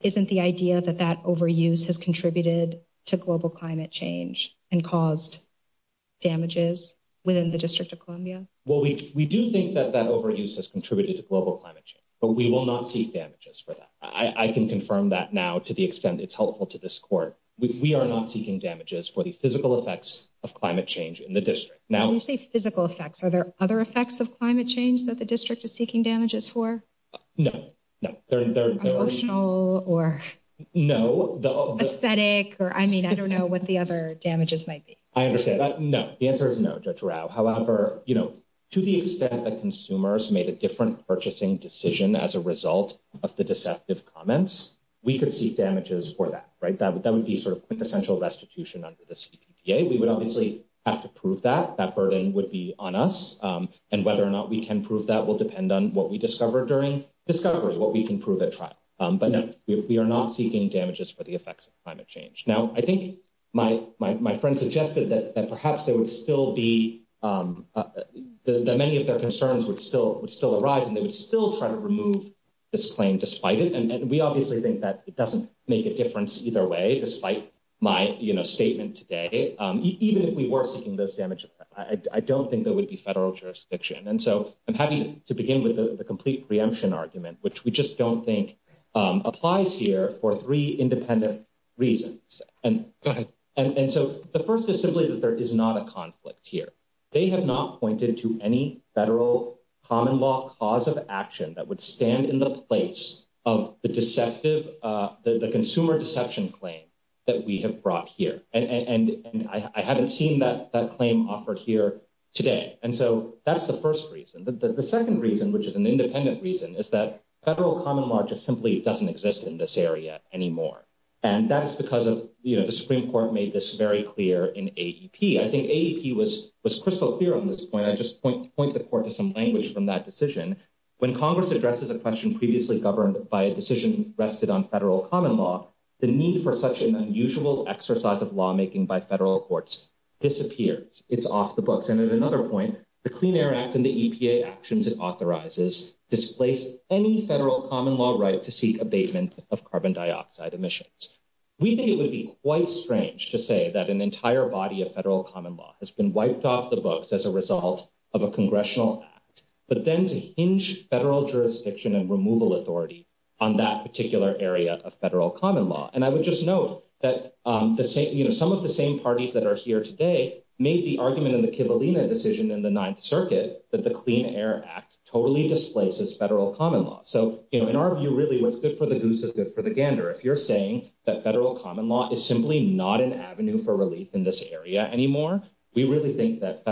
isn't the idea that that overuse has contributed to global climate change and caused damages within the District of Columbia? Well, we do think that that overuse has contributed to global climate change, but we will not seek damages for that. I can confirm that now to the extent it's helpful to this court. We are not seeking damages for the physical effects of climate change that the district is seeking damages for? No, no. Emotional or aesthetic, or I mean, I don't know what the other damages might be. I understand that. No, the answer is no, Judge Rao. However, to the extent that consumers made a different purchasing decision as a result of the deceptive comments, we could seek damages for that, right? That would be sort of quintessential restitution under the CPPA. We would obviously have to prove that. That burden would be on us. And whether or not we can prove that will depend on what we discover during discovery, what we can prove at trial. But no, we are not seeking damages for the effects of climate change. Now, I think my friend suggested that perhaps there would still be, that many of their concerns would still arise and they would still try to remove this claim despite it. And we obviously think that it doesn't make a difference either way, despite my statement today. Even if we were seeking those damages, I don't think there would be federal jurisdiction. And so I'm happy to begin with the complete preemption argument, which we just don't think applies here for three independent reasons. And so the first is simply that there is not a conflict here. They have not pointed to any federal common law cause of action that would stand in the place of the consumer deception claim that we have brought here. And I haven't seen that claim offered here today. And so that's the first reason. The second reason, which is an independent reason, is that federal common law just simply doesn't exist in this area anymore. And that's because the Supreme Court made this very clear in AEP. I think AEP was crystal clear on this point. I just point the court to some language from that decision. When Congress addresses a question previously governed by a decision rested on federal common law, the need for such an unusual exercise of lawmaking by federal courts disappears. It's off the books. And at another point, the Clean Air Act and the EPA actions it authorizes displace any federal common law right to seek abatement of carbon dioxide emissions. We think it would be quite strange to say that an entire body of federal common law has been wiped off the books as a result of a congressional act, but then to hinge federal jurisdiction and removal authority on that particular area of federal common law. And I would just note that some of the same parties that are here today made the argument in the Kivalina decision in the Ninth Circuit that the Clean Air Act totally displaces federal common law. So in our view, really what's good for the goose is good for the gander. If you're saying that federal common law is simply not an avenue for relief in this area anymore, we really think that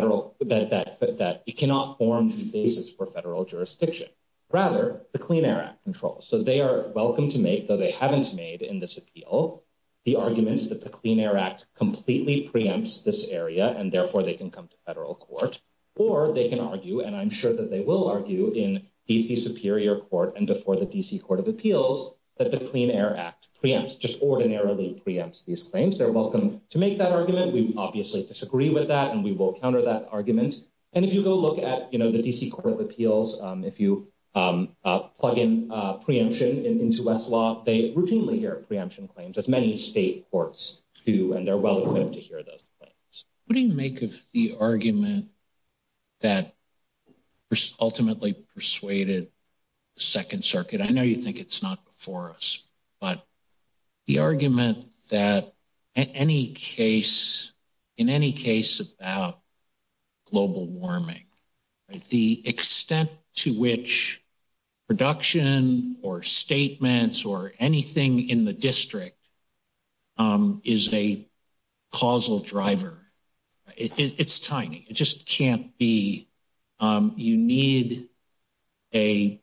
it cannot form the basis for federal jurisdiction. Rather, the Clean Air Act controls. So they are welcome to make, though they haven't made in this appeal, the arguments that the Clean Air Act completely preempts this area and therefore they can come to federal court or they can argue, and I'm sure that they will argue, in D.C. Superior Court and before the D.C. Court of Appeals that the Clean Air Act preempts, just ordinarily preempts these claims. They're welcome to make that argument. We obviously disagree with that and we will counter that argument. And if you go look at, you know, the D.C. Court of Appeals, if you plug in preemption into Westlaw, they routinely hear preemption claims, as many state courts do, and they're well-equipped to hear those claims. What do you make of the argument that ultimately persuaded the Second Circuit? I know you think it's not before us, but the argument that in any case about global warming, the extent to which production or statements or anything in the district is a causal driver, it's tiny. It just can't be. You need a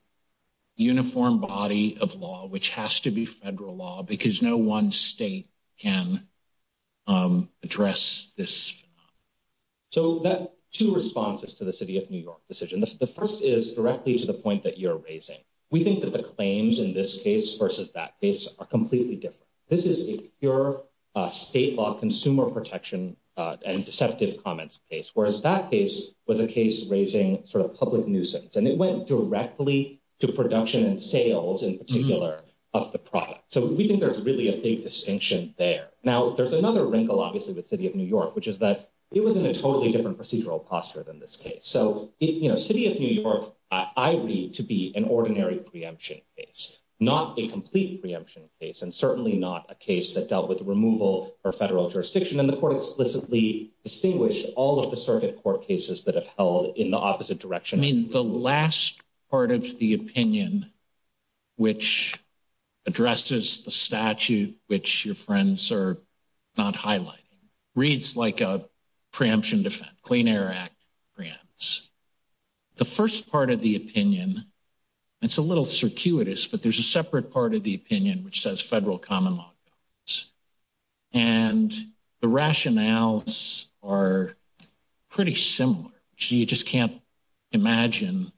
uniform body of law, which has to be federal law, because no one state can address this. So, two responses to the City of New York decision. The first is directly to the point that you're raising. We think that the claims in this case versus that case are completely different. This is a pure state law consumer protection and deceptive comments case, whereas that case was a case raising sort of public nuisance, and it went directly to production and sales in particular of the product. So, we think there's really a big distinction there. Now, there's another wrinkle, obviously, with City of New York, which is that it was in a totally different procedural posture than this case. So, City of New York, I read to be an ordinary preemption case, not a complete preemption case, and certainly not a case that dealt with removal or federal jurisdiction, and the court explicitly distinguished all of the part of the opinion which addresses the statute, which your friends are not highlighting, reads like a preemption defense, Clean Air Act preempts. The first part of the opinion, it's a little circuitous, but there's a separate part of the opinion which says federal common laws, and the rationales are pretty similar. So, you just can't imagine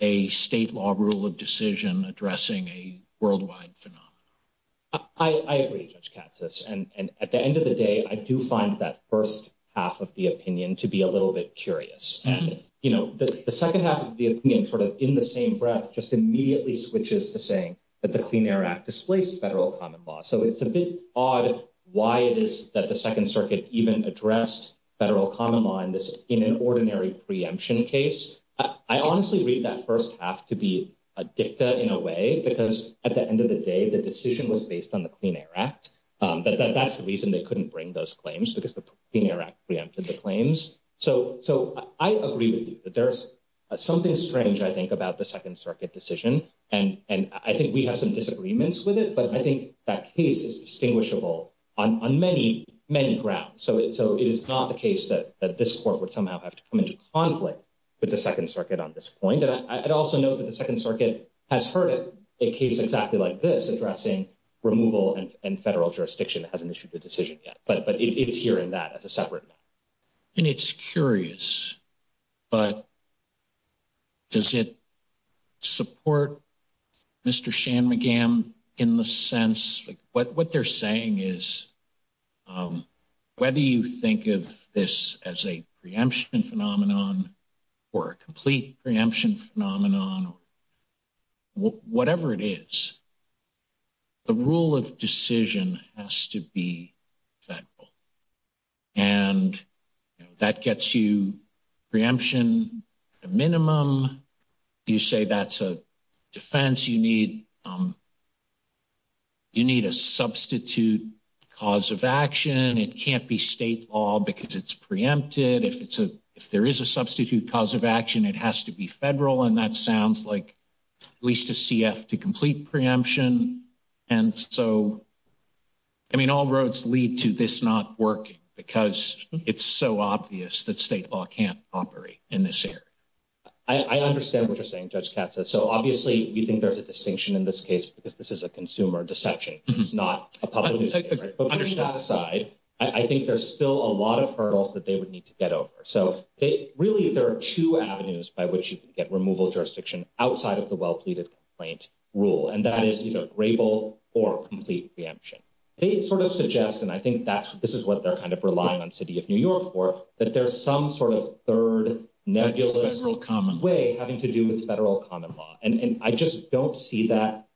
a state law rule of decision addressing a worldwide phenomenon. I agree, Judge Katsas, and at the end of the day, I do find that first half of the opinion to be a little bit curious, and the second half of the opinion sort of in the same breath just immediately switches to saying that the Clean Air Act displaced federal common law. So, it's a bit odd why it is that the Second Circuit even addressed federal common law in an ordinary preemption case. I honestly read that first half to be a dicta in a way, because at the end of the day, the decision was based on the Clean Air Act, but that's the reason they couldn't bring those claims, because the Clean Air Act preempted the claims. So, I agree with you that there's something strange, I think, about the Second Circuit's agreements with it, but I think that case is distinguishable on many grounds. So, it is not the case that this court would somehow have to come into conflict with the Second Circuit on this point, and I'd also note that the Second Circuit has heard a case exactly like this addressing removal and federal jurisdiction that hasn't issued a decision yet, but it's that as a separate matter. And it's curious, but does it support Mr. Shanmugam in the sense, like, what they're saying is, whether you think of this as a preemption phenomenon or a complete preemption phenomenon, whatever it is, the rule of decision has to be federal. And that gets you preemption at a minimum. You say that's a defense, you need a substitute cause of action. It can't be state law because it's preempted. If there is a substitute cause of action, it has to be federal, and that sounds like at least a CF to complete preemption. And so, I mean, all roads lead to this not working because it's so obvious that state law can't operate in this area. I understand what you're saying, Judge Katza. So, obviously, you think there's a distinction in this case because this is a consumer deception. It's not a public decision. But putting that aside, I think there's still a lot of hurdles that they would need to get over. So, really, there are two avenues by which you can use the Federal Complaint Rule, and that is either grable or complete preemption. They sort of suggest, and I think this is what they're kind of relying on City of New York for, that there's some sort of third, nebulous way having to do with federal common law. And I just don't see that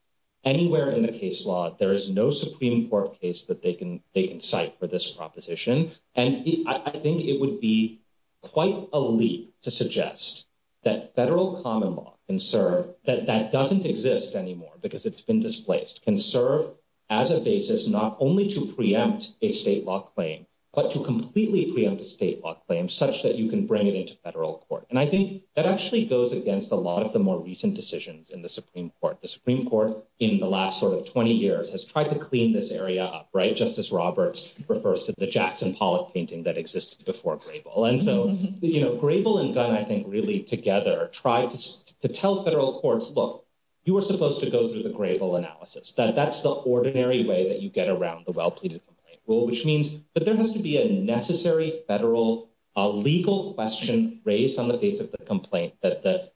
anywhere in the case law, there is no Supreme Court case that they can cite for this proposition. And I think it would be quite a leap to suggest that federal common law can serve, that that doesn't exist anymore because it's been displaced, can serve as a basis not only to preempt a state law claim, but to completely preempt a state law claim such that you can bring it into federal court. And I think that actually goes against a lot of the more recent decisions in the Supreme Court. The Supreme Court in the last sort of 20 years has tried to clean this area up, right? Justice Roberts refers to the Jackson Pollock painting that existed before grable. And so, you know, grable and gun, I think, really together try to tell federal courts, look, you are supposed to go through the grable analysis, that that's the ordinary way that you get around the well-pleaded complaint rule, which means that there has to be a necessary federal legal question raised on the face of the complaint that the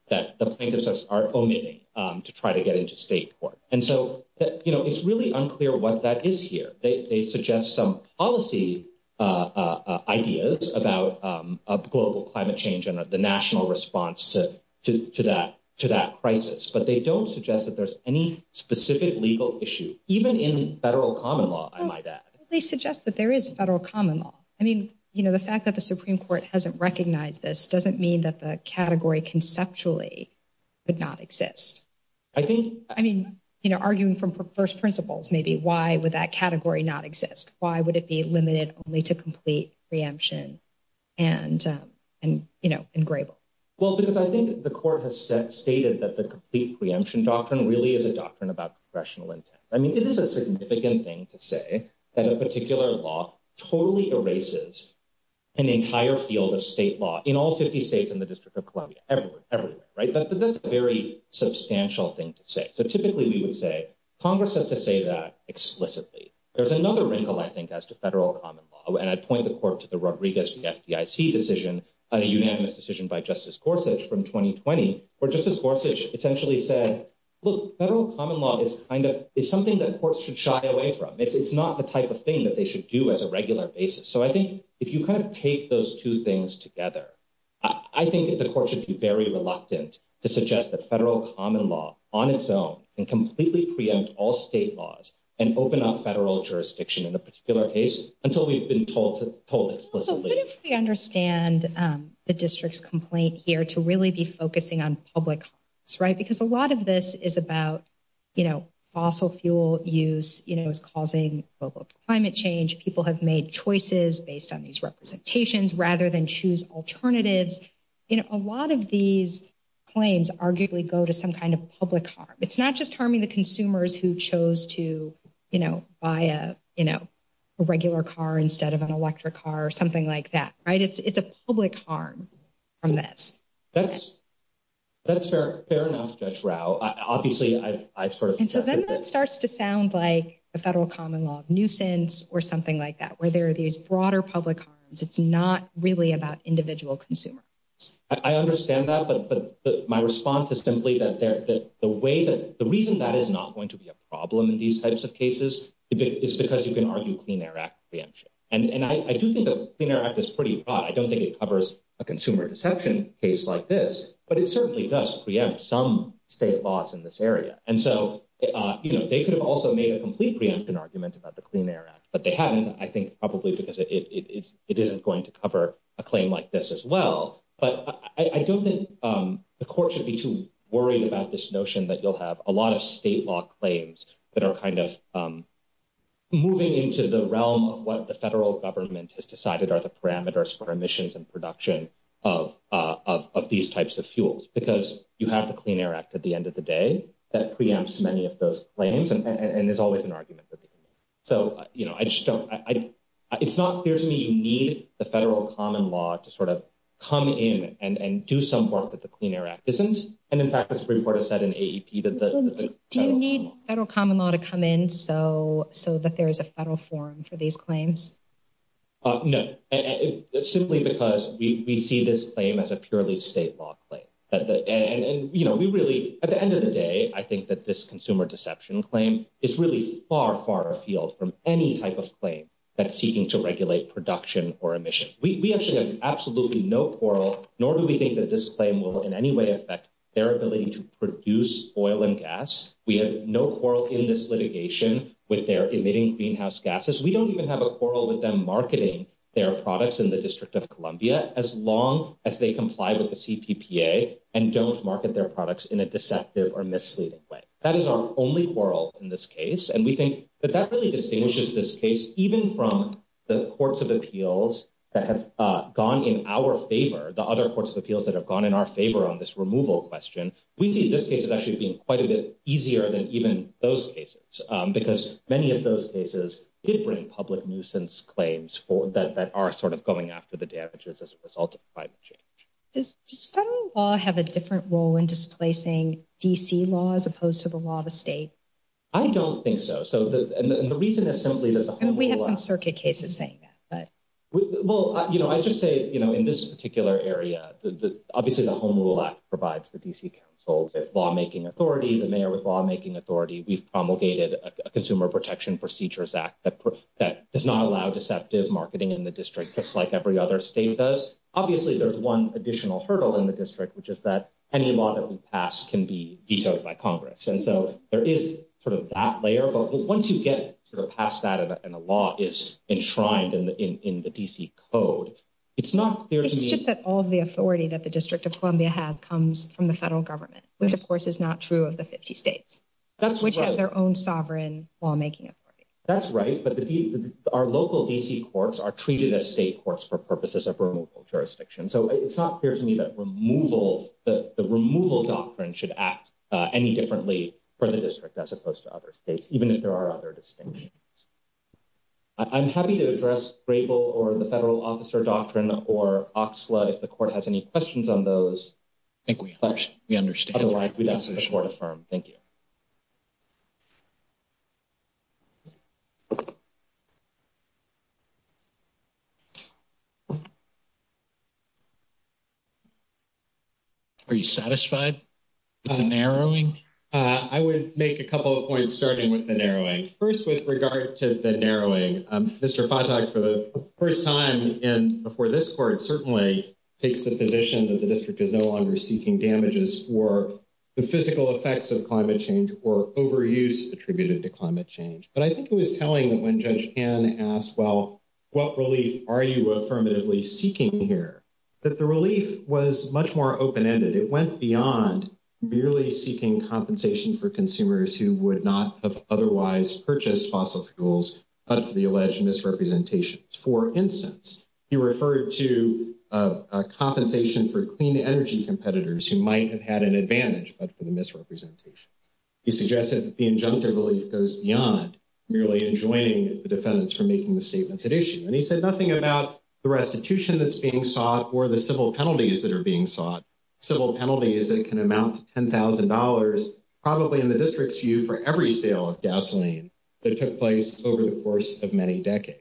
plaintiffs are omitting to try to get into state court. And so, you know, it's really unclear what that is here. They suggest some policy ideas about global climate change and the national response to that crisis. But they don't suggest that there's any specific legal issue, even in federal common law, I might add. They suggest that there is federal common law. I mean, you know, the fact that the Supreme Court hasn't recognized this doesn't mean that the category conceptually would not exist. I think I mean, you know, arguing from first principles, maybe why would that category not exist? Why would it be limited only to complete preemption and and, you know, engrable? Well, because I think the court has stated that the complete preemption doctrine really is a doctrine about rational intent. I mean, it is a significant thing to say that a particular law totally erases an entire field of state law in all 50 states in the District of Columbia. Everywhere, everywhere. Right. But that's a very substantial thing to say. So typically, we would say Congress has to say that explicitly. There's another wrinkle, I think, as to federal common law. And I'd point the court to the Rodriguez, the FDIC decision on a unanimous decision by Justice Gorsuch from 2020, where Justice Gorsuch essentially said, look, federal common law is kind of is something that courts should shy away from. It's not the type of thing that they should do as a regular basis. So I think if you kind of take those two things together, I think the court should be very reluctant to suggest that federal common law on its own and completely preempt all state laws and open up federal jurisdiction in a particular case until we've been told explicitly. But if we understand the district's complaint here to really be focusing on public, right, because a lot of this is about, you know, fossil fuel use, you know, is causing global climate change. People have made choices based on these representations rather than choose alternatives in a lot of these claims arguably go to some kind of public harm. It's not just harming the consumers who chose to, you know, buy a, you know, a regular car instead of an electric car or something like that. Right. It's a public harm from this. That's that's fair. Fair enough, Judge Rao. Obviously, I sort of think that starts to sound like a federal common law of nuisance or something like that, where there are these broader public harms. It's not really about individual consumers. I understand that, but my response is simply that the way that the reason that is not going to be a problem in these types of cases is because you can argue Clean Air Act preemption. And I do think the Clean Air Act is pretty broad. I don't think it covers a consumer deception case like this, but it certainly does preempt some state laws in this area. And so, you know, they could have also made a complete preempt an argument about the Clean Air Act, but they haven't. I think probably because it isn't going to cover a claim like this as well. But I don't think the court should be too worried about this notion that you'll have a lot of state law claims that are kind of moving into the realm of what the federal government has decided are the parameters for emissions and production of these types of fuels. Because you have the Clean Air Act at the end of the day that preempts many of those claims and there's always an argument. So, you know, I just don't it's not clear to me you need the federal common law to sort of come in and do some work that the Clean Air Act isn't. And in fact, this report has said in AEP that the federal common law to come in so so that there is a federal forum for these claims. No, simply because we see this claim as a purely state law claim that and we really at the end of the day, I think that this consumer deception claim is really far, far afield from any type of claim that's seeking to regulate production or emission. We actually have absolutely no quarrel, nor do we think that this claim will in any way affect their ability to produce oil and gas. We have no quarrel in this litigation with their emitting greenhouse gases. We don't even have a quarrel with them marketing their products in the District of Columbia as long as they comply with the CPPA and don't market their products in a deceptive or misleading way. That is our only quarrel in this case. And we think that that really distinguishes this case even from the courts of appeals that have gone in our favor. The other courts of appeals that have gone in our favor on this removal question. We see this case is actually being quite a bit easier than even those cases because many of those cases did bring public nuisance claims for that that are sort of going after the damages as a result of climate change. Does federal law have a different role in displacing D.C. law as opposed to the law of the state? I don't think so. So the reason is simply that we have some circuit cases saying that, but well, I just say in this particular area, obviously, the Home Rule Act provides the D.C. lawmaking authority, the mayor with lawmaking authority. We've promulgated a Consumer Protection Procedures Act that does not allow deceptive marketing in the district, just like every other state does. Obviously, there's one additional hurdle in the district, which is that any law that we pass can be vetoed by Congress. And so there is sort of that layer. But once you get past that and the law is enshrined in the D.C. code, it's not clear. It's just that all of the authority that the District of Columbia has comes from the federal government, which, of course, is not true of the 50 states, which have their own sovereign lawmaking authority. That's right. But our local D.C. courts are treated as state courts for purposes of removal of jurisdiction. So it's not clear to me that removal, the removal doctrine should act any differently for the district as opposed to other states, even if there are other distinctions. I'm happy to address Grable or the federal officer doctrine or Oxlade if the court has any questions on those. I think we understand. Otherwise, we'd ask the court to affirm. Thank you. Are you satisfied with the narrowing? I would make a couple of points, starting with the narrowing. First, with regard to the narrowing, Mr. For the first time and before this court certainly takes the position that the district is no longer seeking damages for the physical effects of climate change or overuse attributed to climate change. But I think it was telling that when Judge and as well, what relief are you affirmatively seeking here that the relief was much more open ended? It went beyond merely seeking compensation for consumers who would not have otherwise purchased fossil fuels, but for the alleged misrepresentation. For instance, you referred to a compensation for clean energy competitors who might have had an advantage, but for the misrepresentation, he suggested that the injunctive relief goes beyond merely enjoining the defendants for making the statements at issue. And he said nothing about the restitution that's being sought or the civil penalties that are being sought civil penalties that can amount to ten thousand dollars, probably in the district's view for every sale of gasoline that took place over the course of many decades.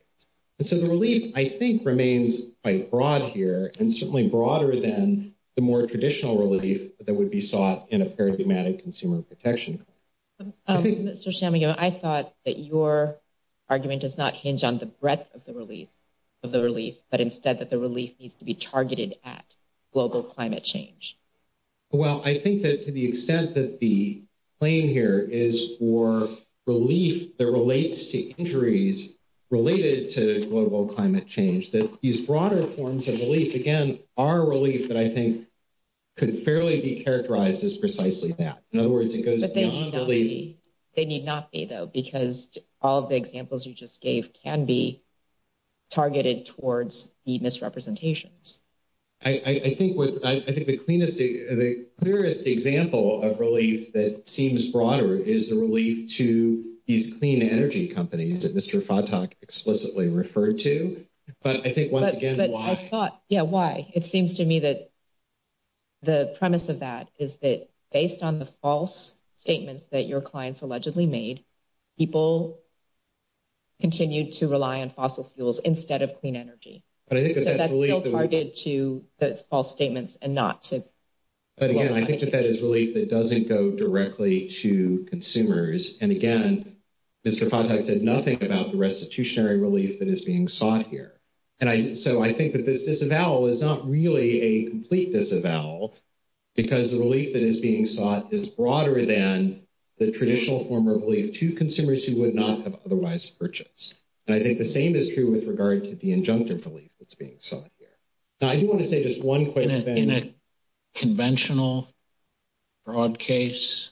And so the relief, I think, remains quite broad here and certainly broader than the more traditional relief that would be sought in a paradigmatic consumer protection. Mr. I thought that your argument does not hinge on the breadth of the release of the relief, but instead that the relief needs to be targeted at global climate change. Well, I think that to the extent that the claim here is for relief that relates to injuries related to global climate change, that these broader forms of relief again are relief that I think could fairly be characterized as precisely that. In other words, it goes they need not be, though, because all of the examples you just gave can be targeted towards the misrepresentations. I think I think the cleanest, the clearest example of relief that seems broader is the relief to these clean energy companies that Mr. Fodtok explicitly referred to. But I think once again, I thought, yeah, why? It seems to me that. The premise of that is that based on the false statements that your clients allegedly made, people. Continue to rely on fossil fuels instead of clean energy, but I think that's really targeted to false statements and not to. But again, I think that that is relief that doesn't go directly to consumers, and again, Mr. Fodtok said nothing about the restitutionary relief that is being sought here. And so I think that this disavowal is not really a complete disavowal because the relief that is being sought is broader than the traditional form of relief to consumers who would not have otherwise purchased. And I think the same is true with regard to the injunctive relief that's being sought here. Now, I do want to say just one quick thing in a conventional. Broad case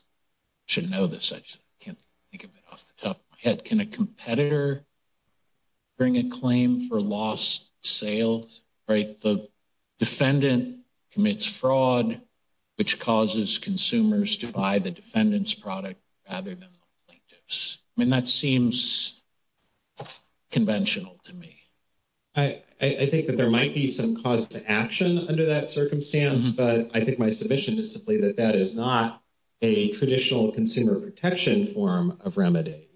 should know this, I can't think of it off the top of my head, can a competitor. Bring a claim for lost sales, right? The defendant commits fraud, which causes consumers to buy the defendant's product rather than. I mean, that seems. Conventional to me. I think that there might be some cause to action under that circumstance, but I think my submission is simply that that is not a traditional consumer protection form of remedy.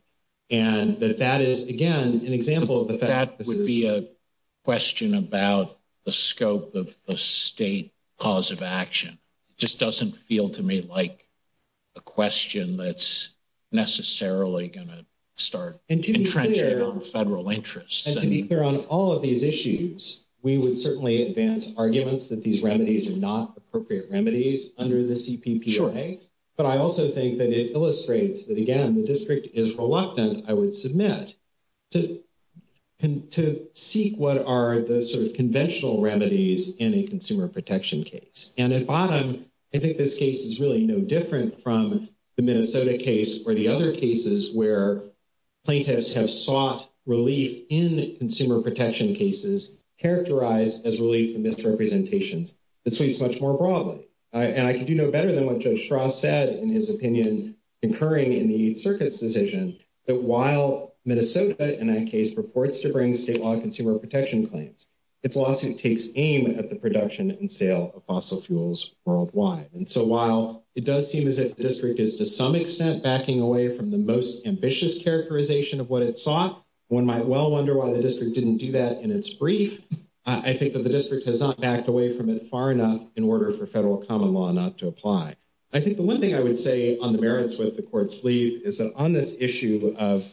And that that is, again, an example of the fact that would be a question about the scope of the state cause of action just doesn't feel to me like. A question that's necessarily going to start and to entrench federal interests and to be clear on all of these issues, we would certainly advance arguments that these remedies are not appropriate remedies under the CPPA. But I also think that it illustrates that again, the district is reluctant. I would submit. To to seek what are the sort of conventional remedies in a consumer protection case? And at bottom, I think this case is really no different from the Minnesota case or the other cases where. Plaintiffs have sought relief in consumer protection cases characterized as relief from misrepresentations that sweeps much more broadly. And I can do no better than what Josh Ross said in his opinion, incurring in the circuits decision that while Minnesota and that case purports to bring state law consumer protection claims. It's lawsuit takes aim at the production and sale of fossil fuels worldwide. And so while it does seem as if the district is to some extent, backing away from the most ambitious characterization of what it sought. One might well wonder why the district didn't do that in its brief. I think that the district has not backed away from it far enough in order for federal common law not to apply. I think the 1 thing I would say on the merits with the court's lead is that on this issue of.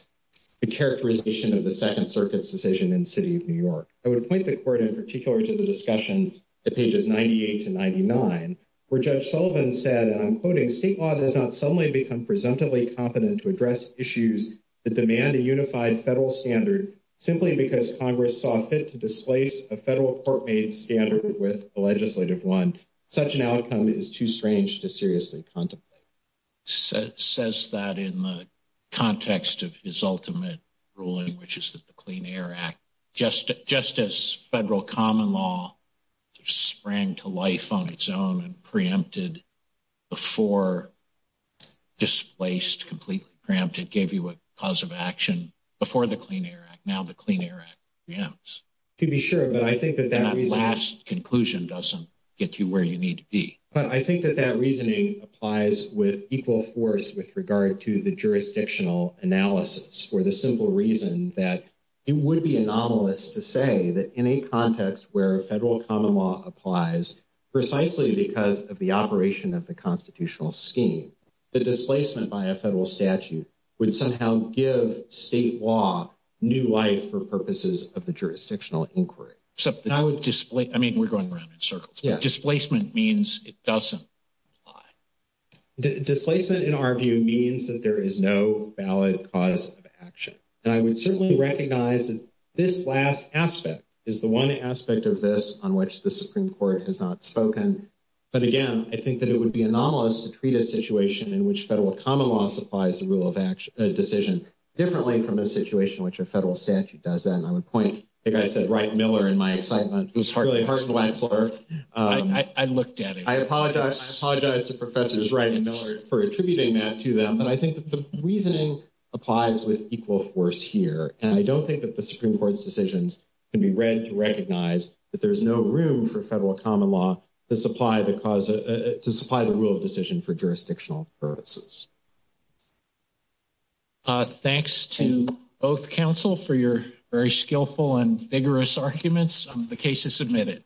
The characterization of the 2nd, circuit's decision in city of New York, I would point the court in particular to the discussion pages 98 to 99, where judge Sullivan said, and I'm quoting state law does not suddenly become presumptively competent to address issues. The demand a unified federal standard simply because Congress saw fit to displace a federal court made standard with the legislative 1. such an outcome is too strange to seriously contemplate. So, it says that in the context of his ultimate ruling, which is that the clean air act, just just as federal common law. Sprang to life on its own and preempted. Before displaced completely cramped, it gave you a cause of action before the clean air act now the clean air. Yeah, to be sure, but I think that that last conclusion doesn't get you where you need to be. But I think that that reasoning applies with equal force with regard to the jurisdictional analysis for the simple reason that. It would be anomalous to say that in a context where federal common law applies. Precisely because of the operation of the constitutional scheme. Displacement by a federal statute would somehow give state law new life for purposes of the jurisdictional inquiry. So, I would display, I mean, we're going around in circles. Displacement means it doesn't. Displacement in our view means that there is no valid cause of action and I would certainly recognize that. This last aspect is the 1 aspect of this on which the Supreme Court has not spoken. But again, I think that it would be anomalous to treat a situation in which federal common law supplies, the rule of action decision. Differently from a situation, which a federal statute does that and I would point I said, right? Miller in my excitement. It was really hard to answer. I looked at it. I apologize. I apologize to professors, right? And Miller for attributing that to them. But I think that the reasoning applies with equal force here, and I don't think that the Supreme Court's decisions can be read to recognize that there's no room for federal common law to supply the cause to supply the rule of decision for jurisdictional purposes. Thanks to both counsel for your very skillful and vigorous arguments. The case is submitted.